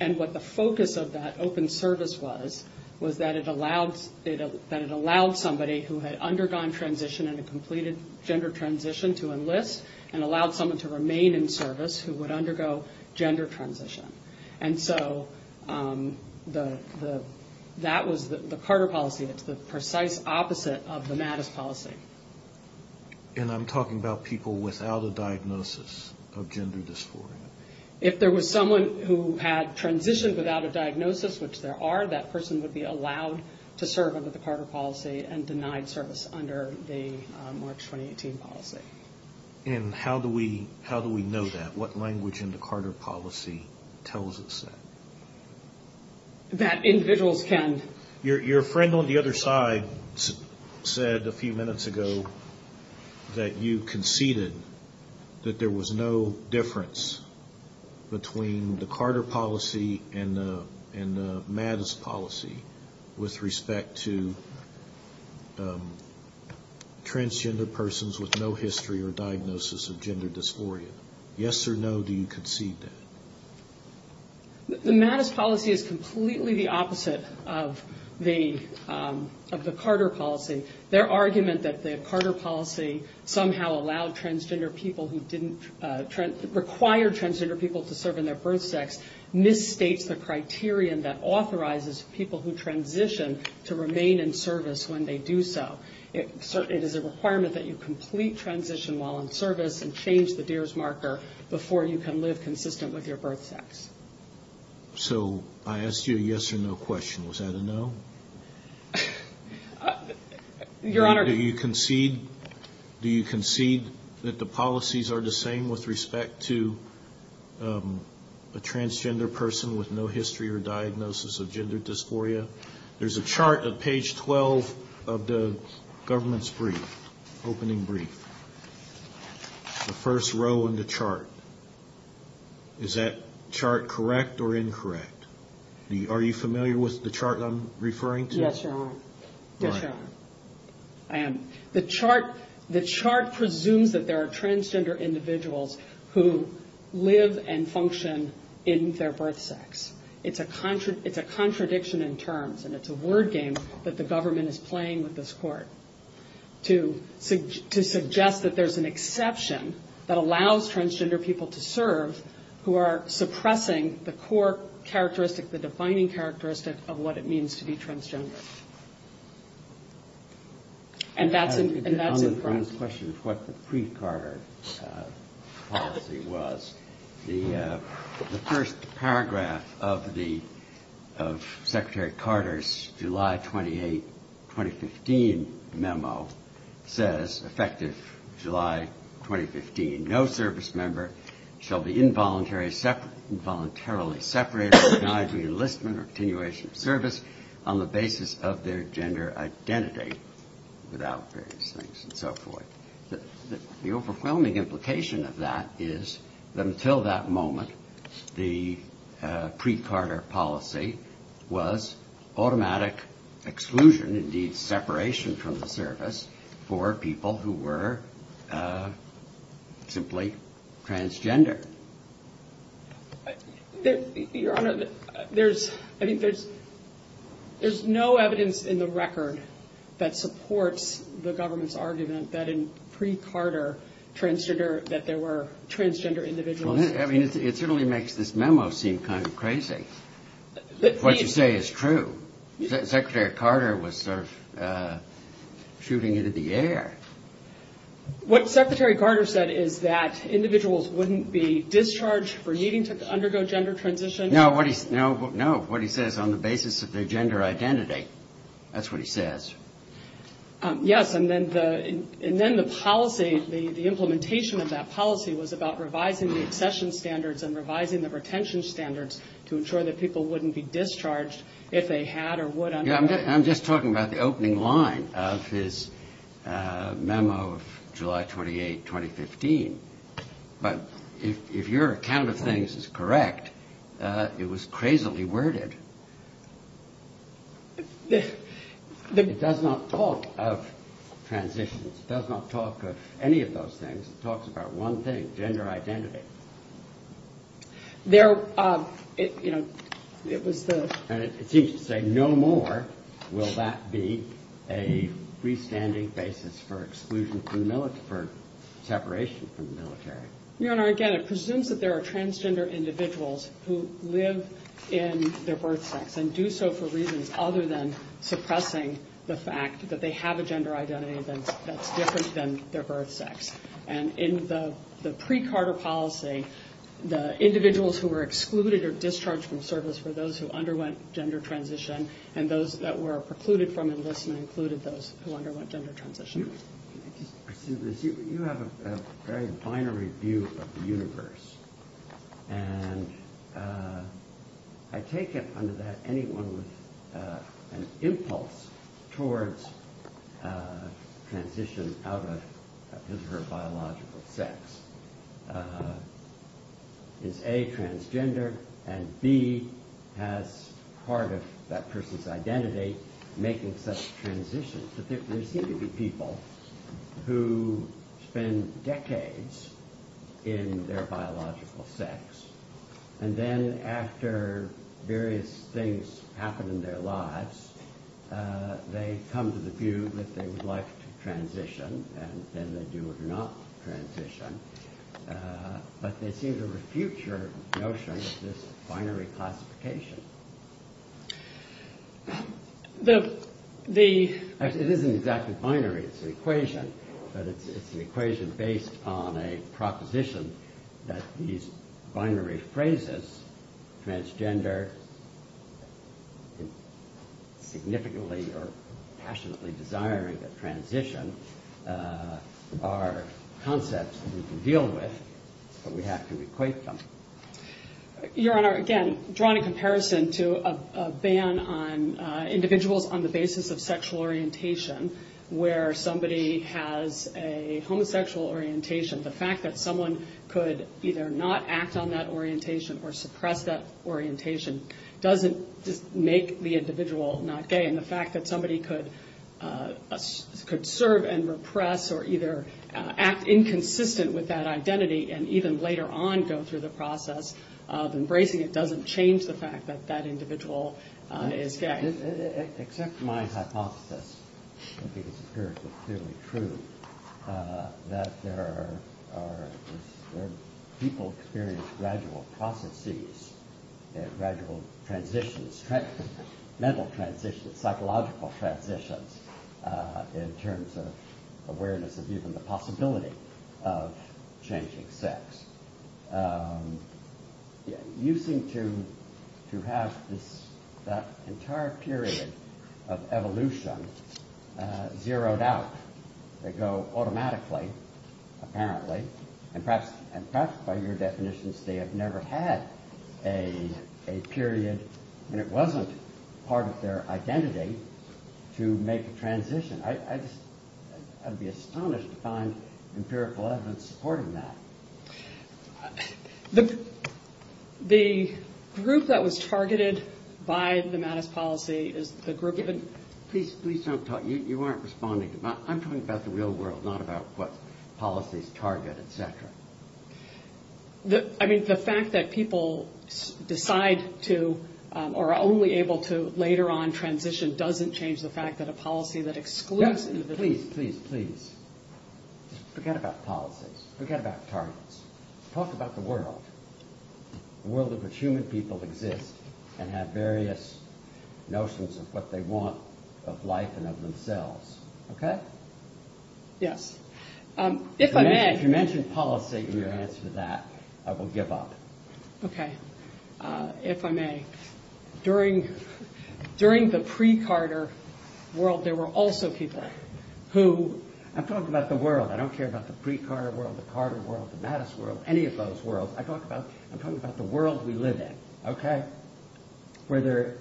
and what the focus of that open service was was that it allowed somebody who had undergone transition and completed gender transition to enlist and allowed someone to remain in service who would undergo gender transition. And so that was the Carter policy. It's the precise opposite of the MADIS policy. And I'm talking about people without a diagnosis of gender dysphoria. If there was someone who had transitioned without a diagnosis, which there are, that person would be allowed to serve under the Carter policy and denied service under the March 2018 policy. And how do we know that? What language in the Carter policy tells us that? That individuals can. Your friend on the other side said a few minutes ago that you conceded that there was no difference between the Carter policy and the MADIS policy with respect to transgender persons with no history or diagnosis of gender dysphoria. Yes or no, do you concede that? The MADIS policy is completely the opposite of the Carter policy. Their argument that the Carter policy somehow allowed transgender people who didn't... misstates the criterion that authorizes people who transition to remain in service when they do so. It is a requirement that you complete transition while in service and change the Deere's marker before you can live consistent with your birth sex. So I asked you a yes or no question. Was that a no? Your Honor... Do you concede that the policies are the same with respect to a transgender person with no history or diagnosis of gender dysphoria? There's a chart at page 12 of the government's brief, opening brief. The first row in the chart. Is that chart correct or incorrect? Are you familiar with the chart I'm referring to? Yes, Your Honor. I am. The chart presumes that there are transgender individuals who live and function in their birth sex. It's a contradiction in terms, and it's a word game that the government is playing with this Court to suggest that there's an exception that allows transgender people to serve who are suppressing the core characteristic, the defining characteristic of what it means to be transgender. And that's impressive. Your Honor, on this question of what the pre-Carter policy was, the first paragraph of the Secretary Carter's July 28, 2015 memo says, effective July 2015, no service member shall be involuntarily separated, denied re-enlistment or continuation of service on the basis of their gender identity without various things and so forth. The overwhelming implication of that is that until that moment, the pre-Carter policy was automatic exclusion, indeed separation from the service for people who were simply transgender. Your Honor, there's, I mean, there's no evidence in the record that supports the government's argument that in pre-Carter, transgender, that there were transgender individuals. Well, I mean, it certainly makes this memo seem kind of crazy. What you say is true. Secretary Carter was sort of shooting it in the air. What Secretary Carter said is that individuals wouldn't be discharged for needing to undergo gender transition. No, what he says on the basis of their gender identity. That's what he says. Yes, and then the policy, the implementation of that policy was about revising the accession standards and revising the retention standards to ensure that people wouldn't be discharged if they had or would undergo. Yeah, I'm just talking about the opening line of his memo of July 28, 2015. But if your account of things is correct, it was crazily worded. It does not talk of transitions. It does not talk of any of those things. It talks about one thing, gender identity. And it seems to say no more will that be a freestanding basis for exclusion from the military, for separation from the military. Your Honor, again, it presumes that there are transgender individuals who live in their birth sex and do so for reasons other than suppressing the fact that they have a gender identity that's different than their birth sex. And in the pre-Carter policy, the individuals who were excluded or discharged from service were those who underwent gender transition, and those that were precluded from enlistment included those who underwent gender transition. You have a very binary view of the universe. And I take it under that anyone with an impulse towards transition out of his or her biological sex is A, transgender, and B, has part of that person's identity making such a transition. But there seem to be people who spend decades in their biological sex, and then after various things happen in their lives, they come to the view that they would like to transition, and then they do or do not transition. But they seem to binary classification. It isn't exactly binary. It's an equation. But it's an equation based on a proposition that these binary phrases, transgender, significantly or passionately desiring a transition, are concepts that we can deal with, but we have to equate them. Your Honor, again, drawn in comparison to a ban on individuals on the basis of sexual orientation where somebody has a homosexual orientation, the fact that someone could either not act on that orientation or suppress that orientation doesn't make the individual not gay. And the fact that somebody could serve and repress or either act inconsistent with that identity and even later on go through the process of embracing it doesn't change the fact that that individual is gay. Except my hypothesis, I think it's clearly true, that there are people experiencing gradual processes, gradual transitions, mental transitions, psychological transitions in terms of awareness of even the possibility of changing sex. You seem to have that entire period of evolution zeroed out. They go automatically, apparently, and perhaps by your definitions, they have never had a period when it wasn't part of their identity to make a transition. I'd be astonished to find empirical evidence supporting that. The group that was targeted by the Mattis policy is the group... Please don't talk. You aren't responding. I'm talking about the real world, not about what policies target, etc. I mean, the fact that people decide to or are only able to later on transition doesn't change the fact that a policy that excludes... Please, please, please. Forget about policies. Forget about targets. Talk about the world. The world in which human people exist and have various notions of what they want of life and of themselves. Okay? Yes. If I may... If you mention policy in your answer to that, I will give up. Okay. If I may. During the pre-Carter world, there were also people who... I'm talking about the world. I don't care about the pre-Carter world, the Carter world, the Mattis world, any of those worlds. I'm talking about the world we live in. Okay? Where there are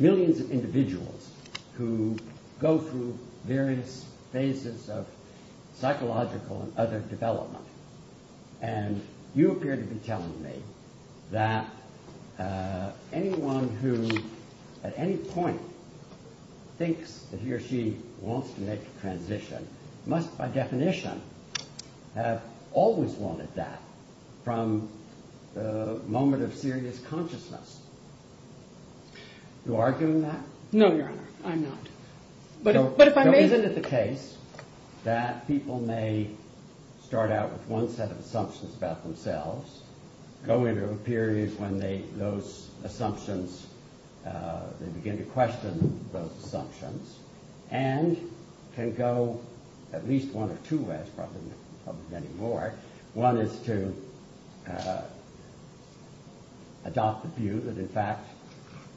millions of individuals who go through various phases of psychological and other development. You appear to be telling me that anyone who at any point thinks that he or she wants to make a transition must, by definition, have always wanted that from the moment of serious consciousness. Do you argue with that? No, Your Honor. I'm not. But if I may... So is it the case that people may start out with one set of assumptions about themselves, go into a period when those assumptions, they begin to question those assumptions, and can go at least one or two ways, probably many more. One is to adopt the view that in fact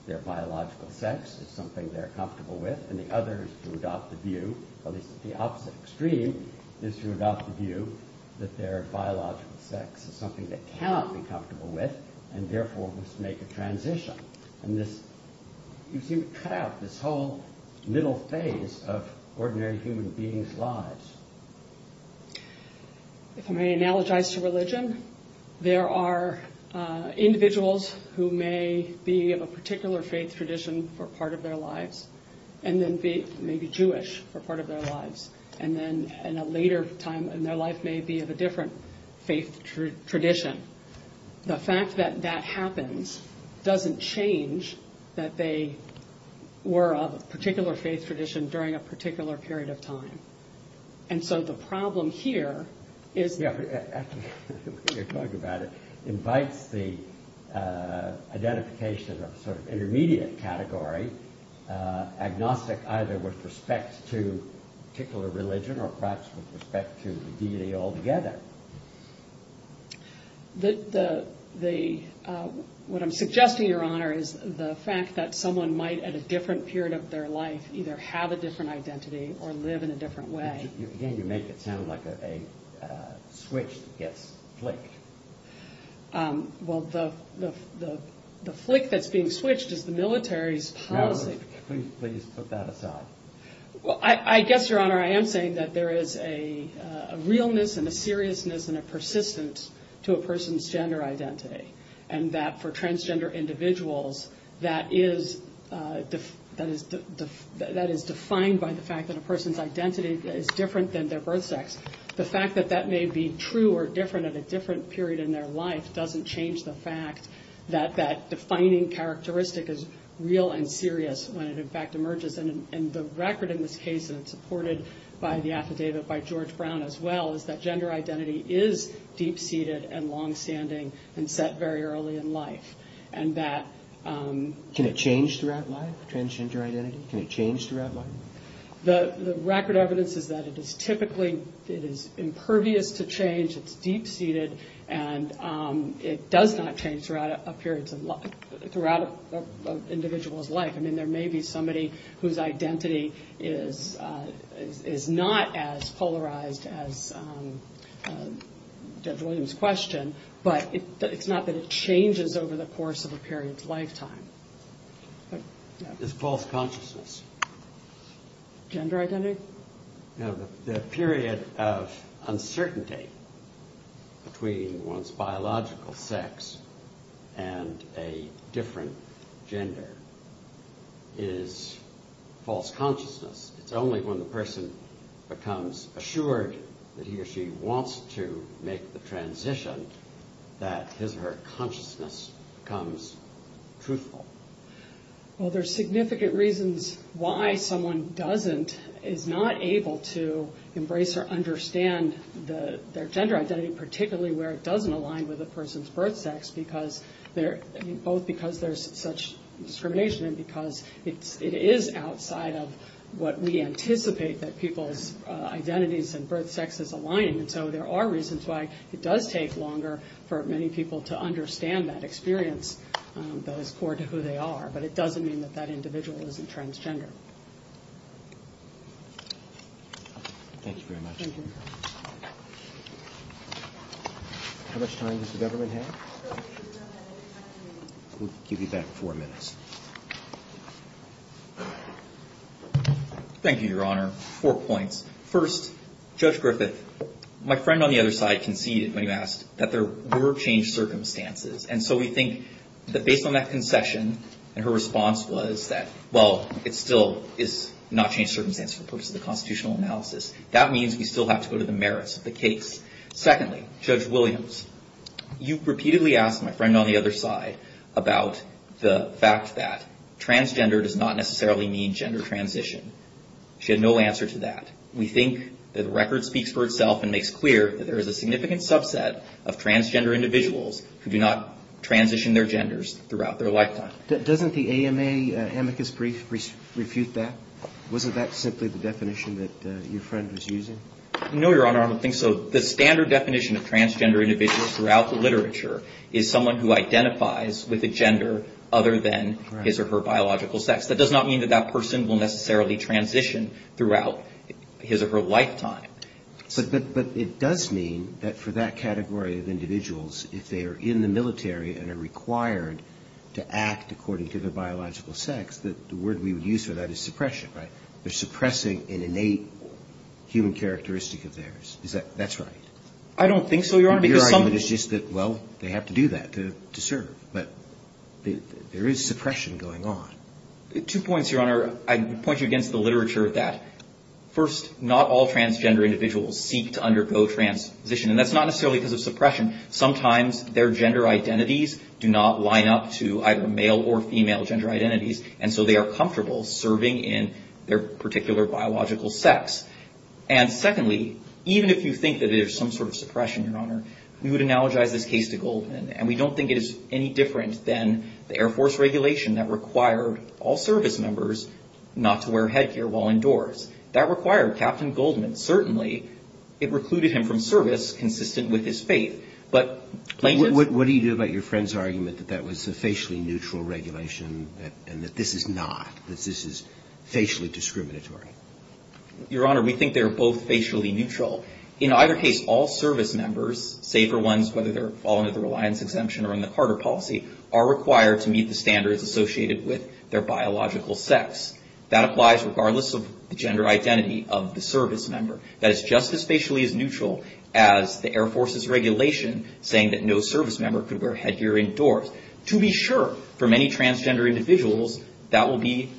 their biological sex is something they're comfortable with, and the other is to adopt the view, at least at the opposite extreme, is to adopt the view that their biological sex is something they cannot be comfortable with, and therefore must make a transition. And this... is the whole phase of ordinary human beings' lives. If I may analogize to religion, there are individuals who may be of a particular faith tradition for part of their lives, and then may be Jewish for part of their lives, and then in a later time in their life may be of a different faith tradition. The fact that that happens doesn't change that they were of a particular faith tradition during a particular period of time. And so the problem here is... You're talking about it, invites the identification of a sort of intermediate category, agnostic either with respect to particular religion, or perhaps with respect to the deity altogether. The... what I'm suggesting, Your Honor, is the fact that someone might at a different period of their life either have a different identity or live in a different way. You make it sound like a switch gets flicked. Well, the flick that's being switched is the military's policy. Please put that aside. I guess, Your Honor, I am saying that there is a realness and a seriousness and a persistence to a person's gender identity. And that for transgender individuals that is defined by the fact that a person's identity is different than their birth sex. The fact that that may be true or different at a different period in their life doesn't change the fact that that defining characteristic is real and serious when it in fact emerges. And the record in this case, and it's supported by the affidavit by George Brown as well, is that gender identity is deep-seated and long-standing and set very early in life. And that Can it change throughout life? Transgender identity? Can it change throughout life? The record evidence is that it is typically impervious to change. It's deep-seated and it does not change throughout a person's life. I mean, there may be somebody whose identity is not as polarized as Deb Williams' question, but it's not that it changes over the course of a period's lifetime. It's false consciousness. Gender identity? The period of uncertainty between one's biological sex and a different gender is false consciousness. It's only when the person becomes assured that he or she wants to make the transition that his or her consciousness becomes truthful. Well, there's significant reasons why someone doesn't, is not able to embrace or understand their gender identity, particularly where it doesn't align with a person's birth sex, because both because there's such discrimination and because it is outside of what we anticipate that people's identities and birth sex is aligning. And so there are reasons why it does take longer for many people to understand that experience that is core to who they are. But it doesn't mean that that individual isn't transgender. Thank you very much. How much time does the government have? We'll give you back four minutes. Thank you, Your Honor. Four points. First, Judge Griffith, my friend on the other side conceded when you asked that there were changed circumstances. And so we think that based on that concession and her response was that, well, it still is not changed circumstances for the purpose of the constitutional analysis. That means we still have to go to the merits of the case. Secondly, Judge Williams, you've repeatedly asked my friend on the other side about the fact that transgender does not necessarily mean gender transition. She had no answer to that. We think that the record speaks for itself and makes clear that there is a significant subset of transgender individuals who do not transition their genders throughout their lifetime. Doesn't the AMA amicus brief refute that? Wasn't that simply the definition that your friend was using? No, Your Honor. I don't think so. The standard definition of transgender individual throughout the literature is someone who identifies with a gender other than his or her biological sex. That does not mean that that person will necessarily transition throughout his or her lifetime. But it does mean that for that category of individuals, if they are in the military and are required to act according to their biological sex, that the word we would use for that is suppression, right? They're suppressing an innate human characteristic of theirs. Is that right? I don't think so, Your Honor. Your argument is just that, well, they have to do that to serve. But there is suppression going on. Two points, Your Honor. I point you against the literature that first, not all transgender individuals seek to undergo transition. And that's not necessarily because of suppression. Sometimes their gender identities do not line up to either male or female gender identities. And so they are comfortable serving in their particular biological sex. And secondly, even if you think that there's some sort of suppression, Your Honor, we would analogize this case to Goldman. And we don't think it is any different than the Air Force regulation that required all service members not to wear headgear while indoors. That required Captain Goldman certainly, it recluded him from service consistent with his faith. But plaintiffs... What do you do about your friend's argument that that was a facially neutral regulation and that this is not, that this is facially discriminatory? Your Honor, we think they're both facially neutral. In either case, all service members, save for ones whether they're fallen under reliance exemption or in the Carter policy, are required to meet the standards associated with their biological sex. That applies regardless of the gender identity of the service member. That is just as facially as neutral as the Air Force's regulation saying that no service member could wear headgear indoors. To be sure, for many transgender individuals, that will be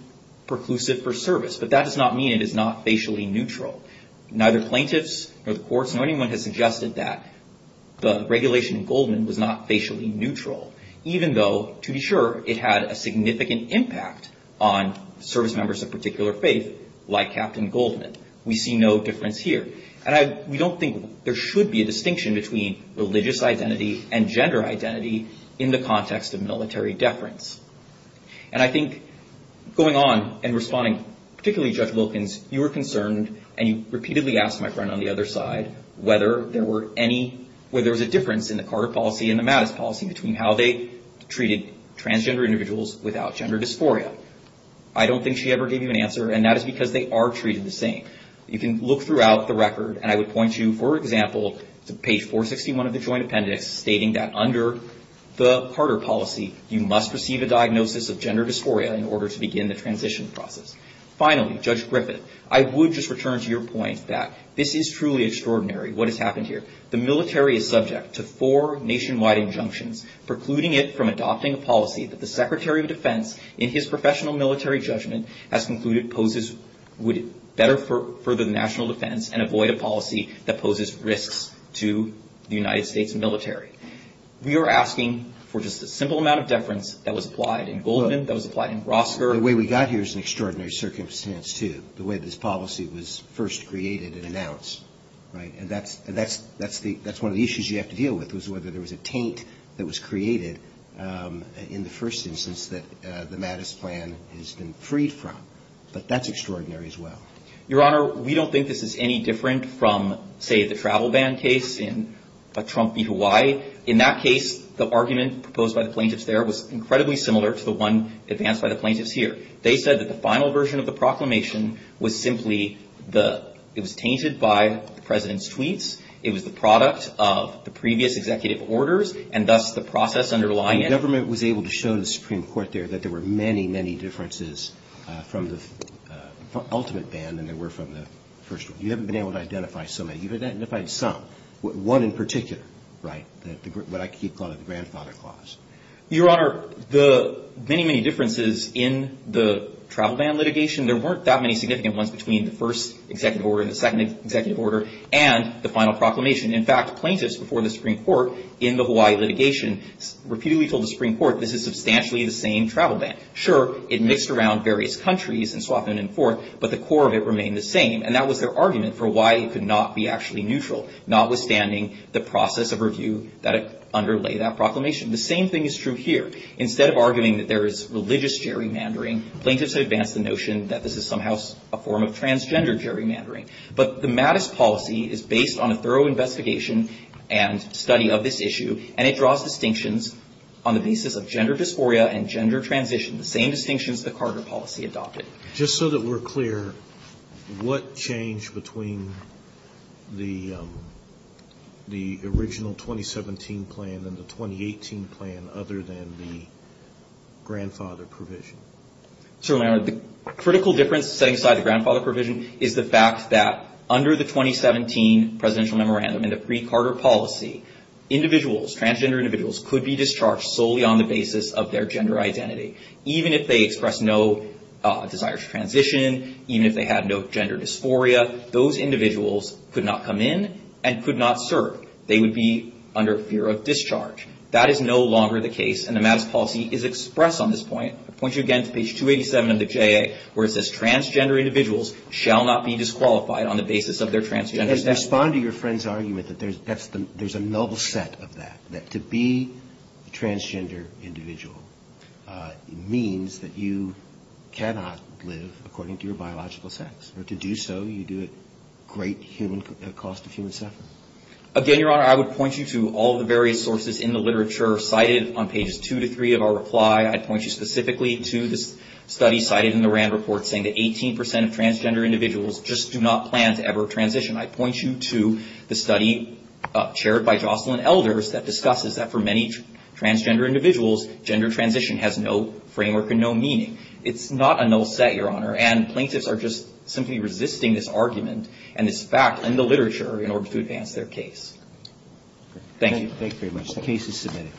preclusive for service. But that does not mean it is not facially neutral. Neither plaintiffs nor the courts, nor anyone has suggested that the regulation in Goldman was not facially neutral. Even though, to be sure, it had a significant impact on service members of a particular faith, like Captain Goldman. We see no difference here. And we don't think there should be a distinction between religious identity and gender identity in the context of military deference. And I think going on and responding, particularly Judge Wilkins, you were concerned and you repeatedly asked my friend on the other side whether there were any, whether there was a difference in the Carter policy and the Mattis policy between how they treated transgender individuals without gender dysphoria. I don't think she ever gave you an answer and that is because they are treated the same. You can look throughout the record and I would point you, for example, to page 461 of the Joint Appendix stating that under the Carter policy, you must receive a diagnosis of gender dysphoria in order to begin the transition process. Finally, Judge Griffith, I would just return to your point that this is truly extraordinary what has happened here. The military is subject to four nationwide injunctions precluding it from adopting a policy that the Secretary of Defense, in his professional military judgment, has concluded poses would better further the national defense and avoid a policy that poses risks to the United States military. We are asking for just a simple amount of deference that was applied in Goldman, that was applied in Rosker. The way we got here is an extraordinary circumstance, too. The way this policy was first created and announced. That's one of the issues you have to deal with, whether there was a taint that was created in the first instance that the Mattis plan has been freed from. But that's extraordinary as well. Your Honor, we don't think this is any different from, say, the travel ban case in Trump v. Hawaii. In that case, the argument proposed by the plaintiffs there was incredibly similar to the one advanced by the plaintiffs here. They said that the final version of the proclamation was simply the, it was tainted by the President's tweets, it was the product of the previous executive orders, and thus the process underlying it. The government was able to show the Supreme Court there that there were many, many differences from the ultimate ban than there were from the first one. You haven't been able to identify so many. You've identified some. One in particular, what I keep calling the grandfather clause. Your Honor, the many, many differences in the travel ban litigation, there weren't that many significant ones between the first executive order and the second executive order and the final proclamation. In fact, plaintiffs before the Supreme Court in the Hawaii litigation repeatedly told the Supreme Court this is substantially the same travel ban. Sure, it mixed around various countries and so on and so forth, but the core of it remained the same. And that was their argument for why it could not be actually neutral, notwithstanding the process of review that underlay that proclamation. The same thing is true here. Instead of arguing that there is religious gerrymandering, plaintiffs have advanced the notion that this is somehow a form of transgender gerrymandering. But the Mattis policy is based on a thorough investigation and study of this issue, and it draws distinctions on the basis of gender dysphoria and gender transition, the same distinctions the Carter policy adopted. Just so that we're clear, what changed between the original 2017 plan and the 2018 plan other than the grandfather provision? Certainly, Your Honor. The critical difference setting aside the grandfather provision is the fact that under the 2017 presidential memorandum and the free Carter policy, individuals, transgender individuals could be discharged solely on the basis of their gender identity, even if they expressed no desire to transition, even if they had no gender dysphoria, those individuals could not come in and could not serve. They would be under fear of discharge. That is no longer the case, and the Mattis policy is expressed on this point. I point you again to page 287 of the JA, where it says transgender individuals shall not be disqualified on the basis of their transgender identity. Respond to your friend's argument that there's a noble set of that, that to be a transgender individual means that you cannot live according to your biological sex, or to do so you do it at great human cost of human suffering. Again, Your Honor, I would point you to all the various sources in the literature cited on pages two to three of our reply. I'd point you specifically to this study cited in the Rand report saying that 18 percent of transgender individuals just do not plan to ever transition. I'd point you to the study chaired by Jocelyn Elders that discusses that for many transgender individuals, gender transition has no framework and no meaning. It's not a noble set, Your Honor, and plaintiffs are just simply resisting this argument and this fact in the literature in order to advance their case. Thank you. The case is submitted.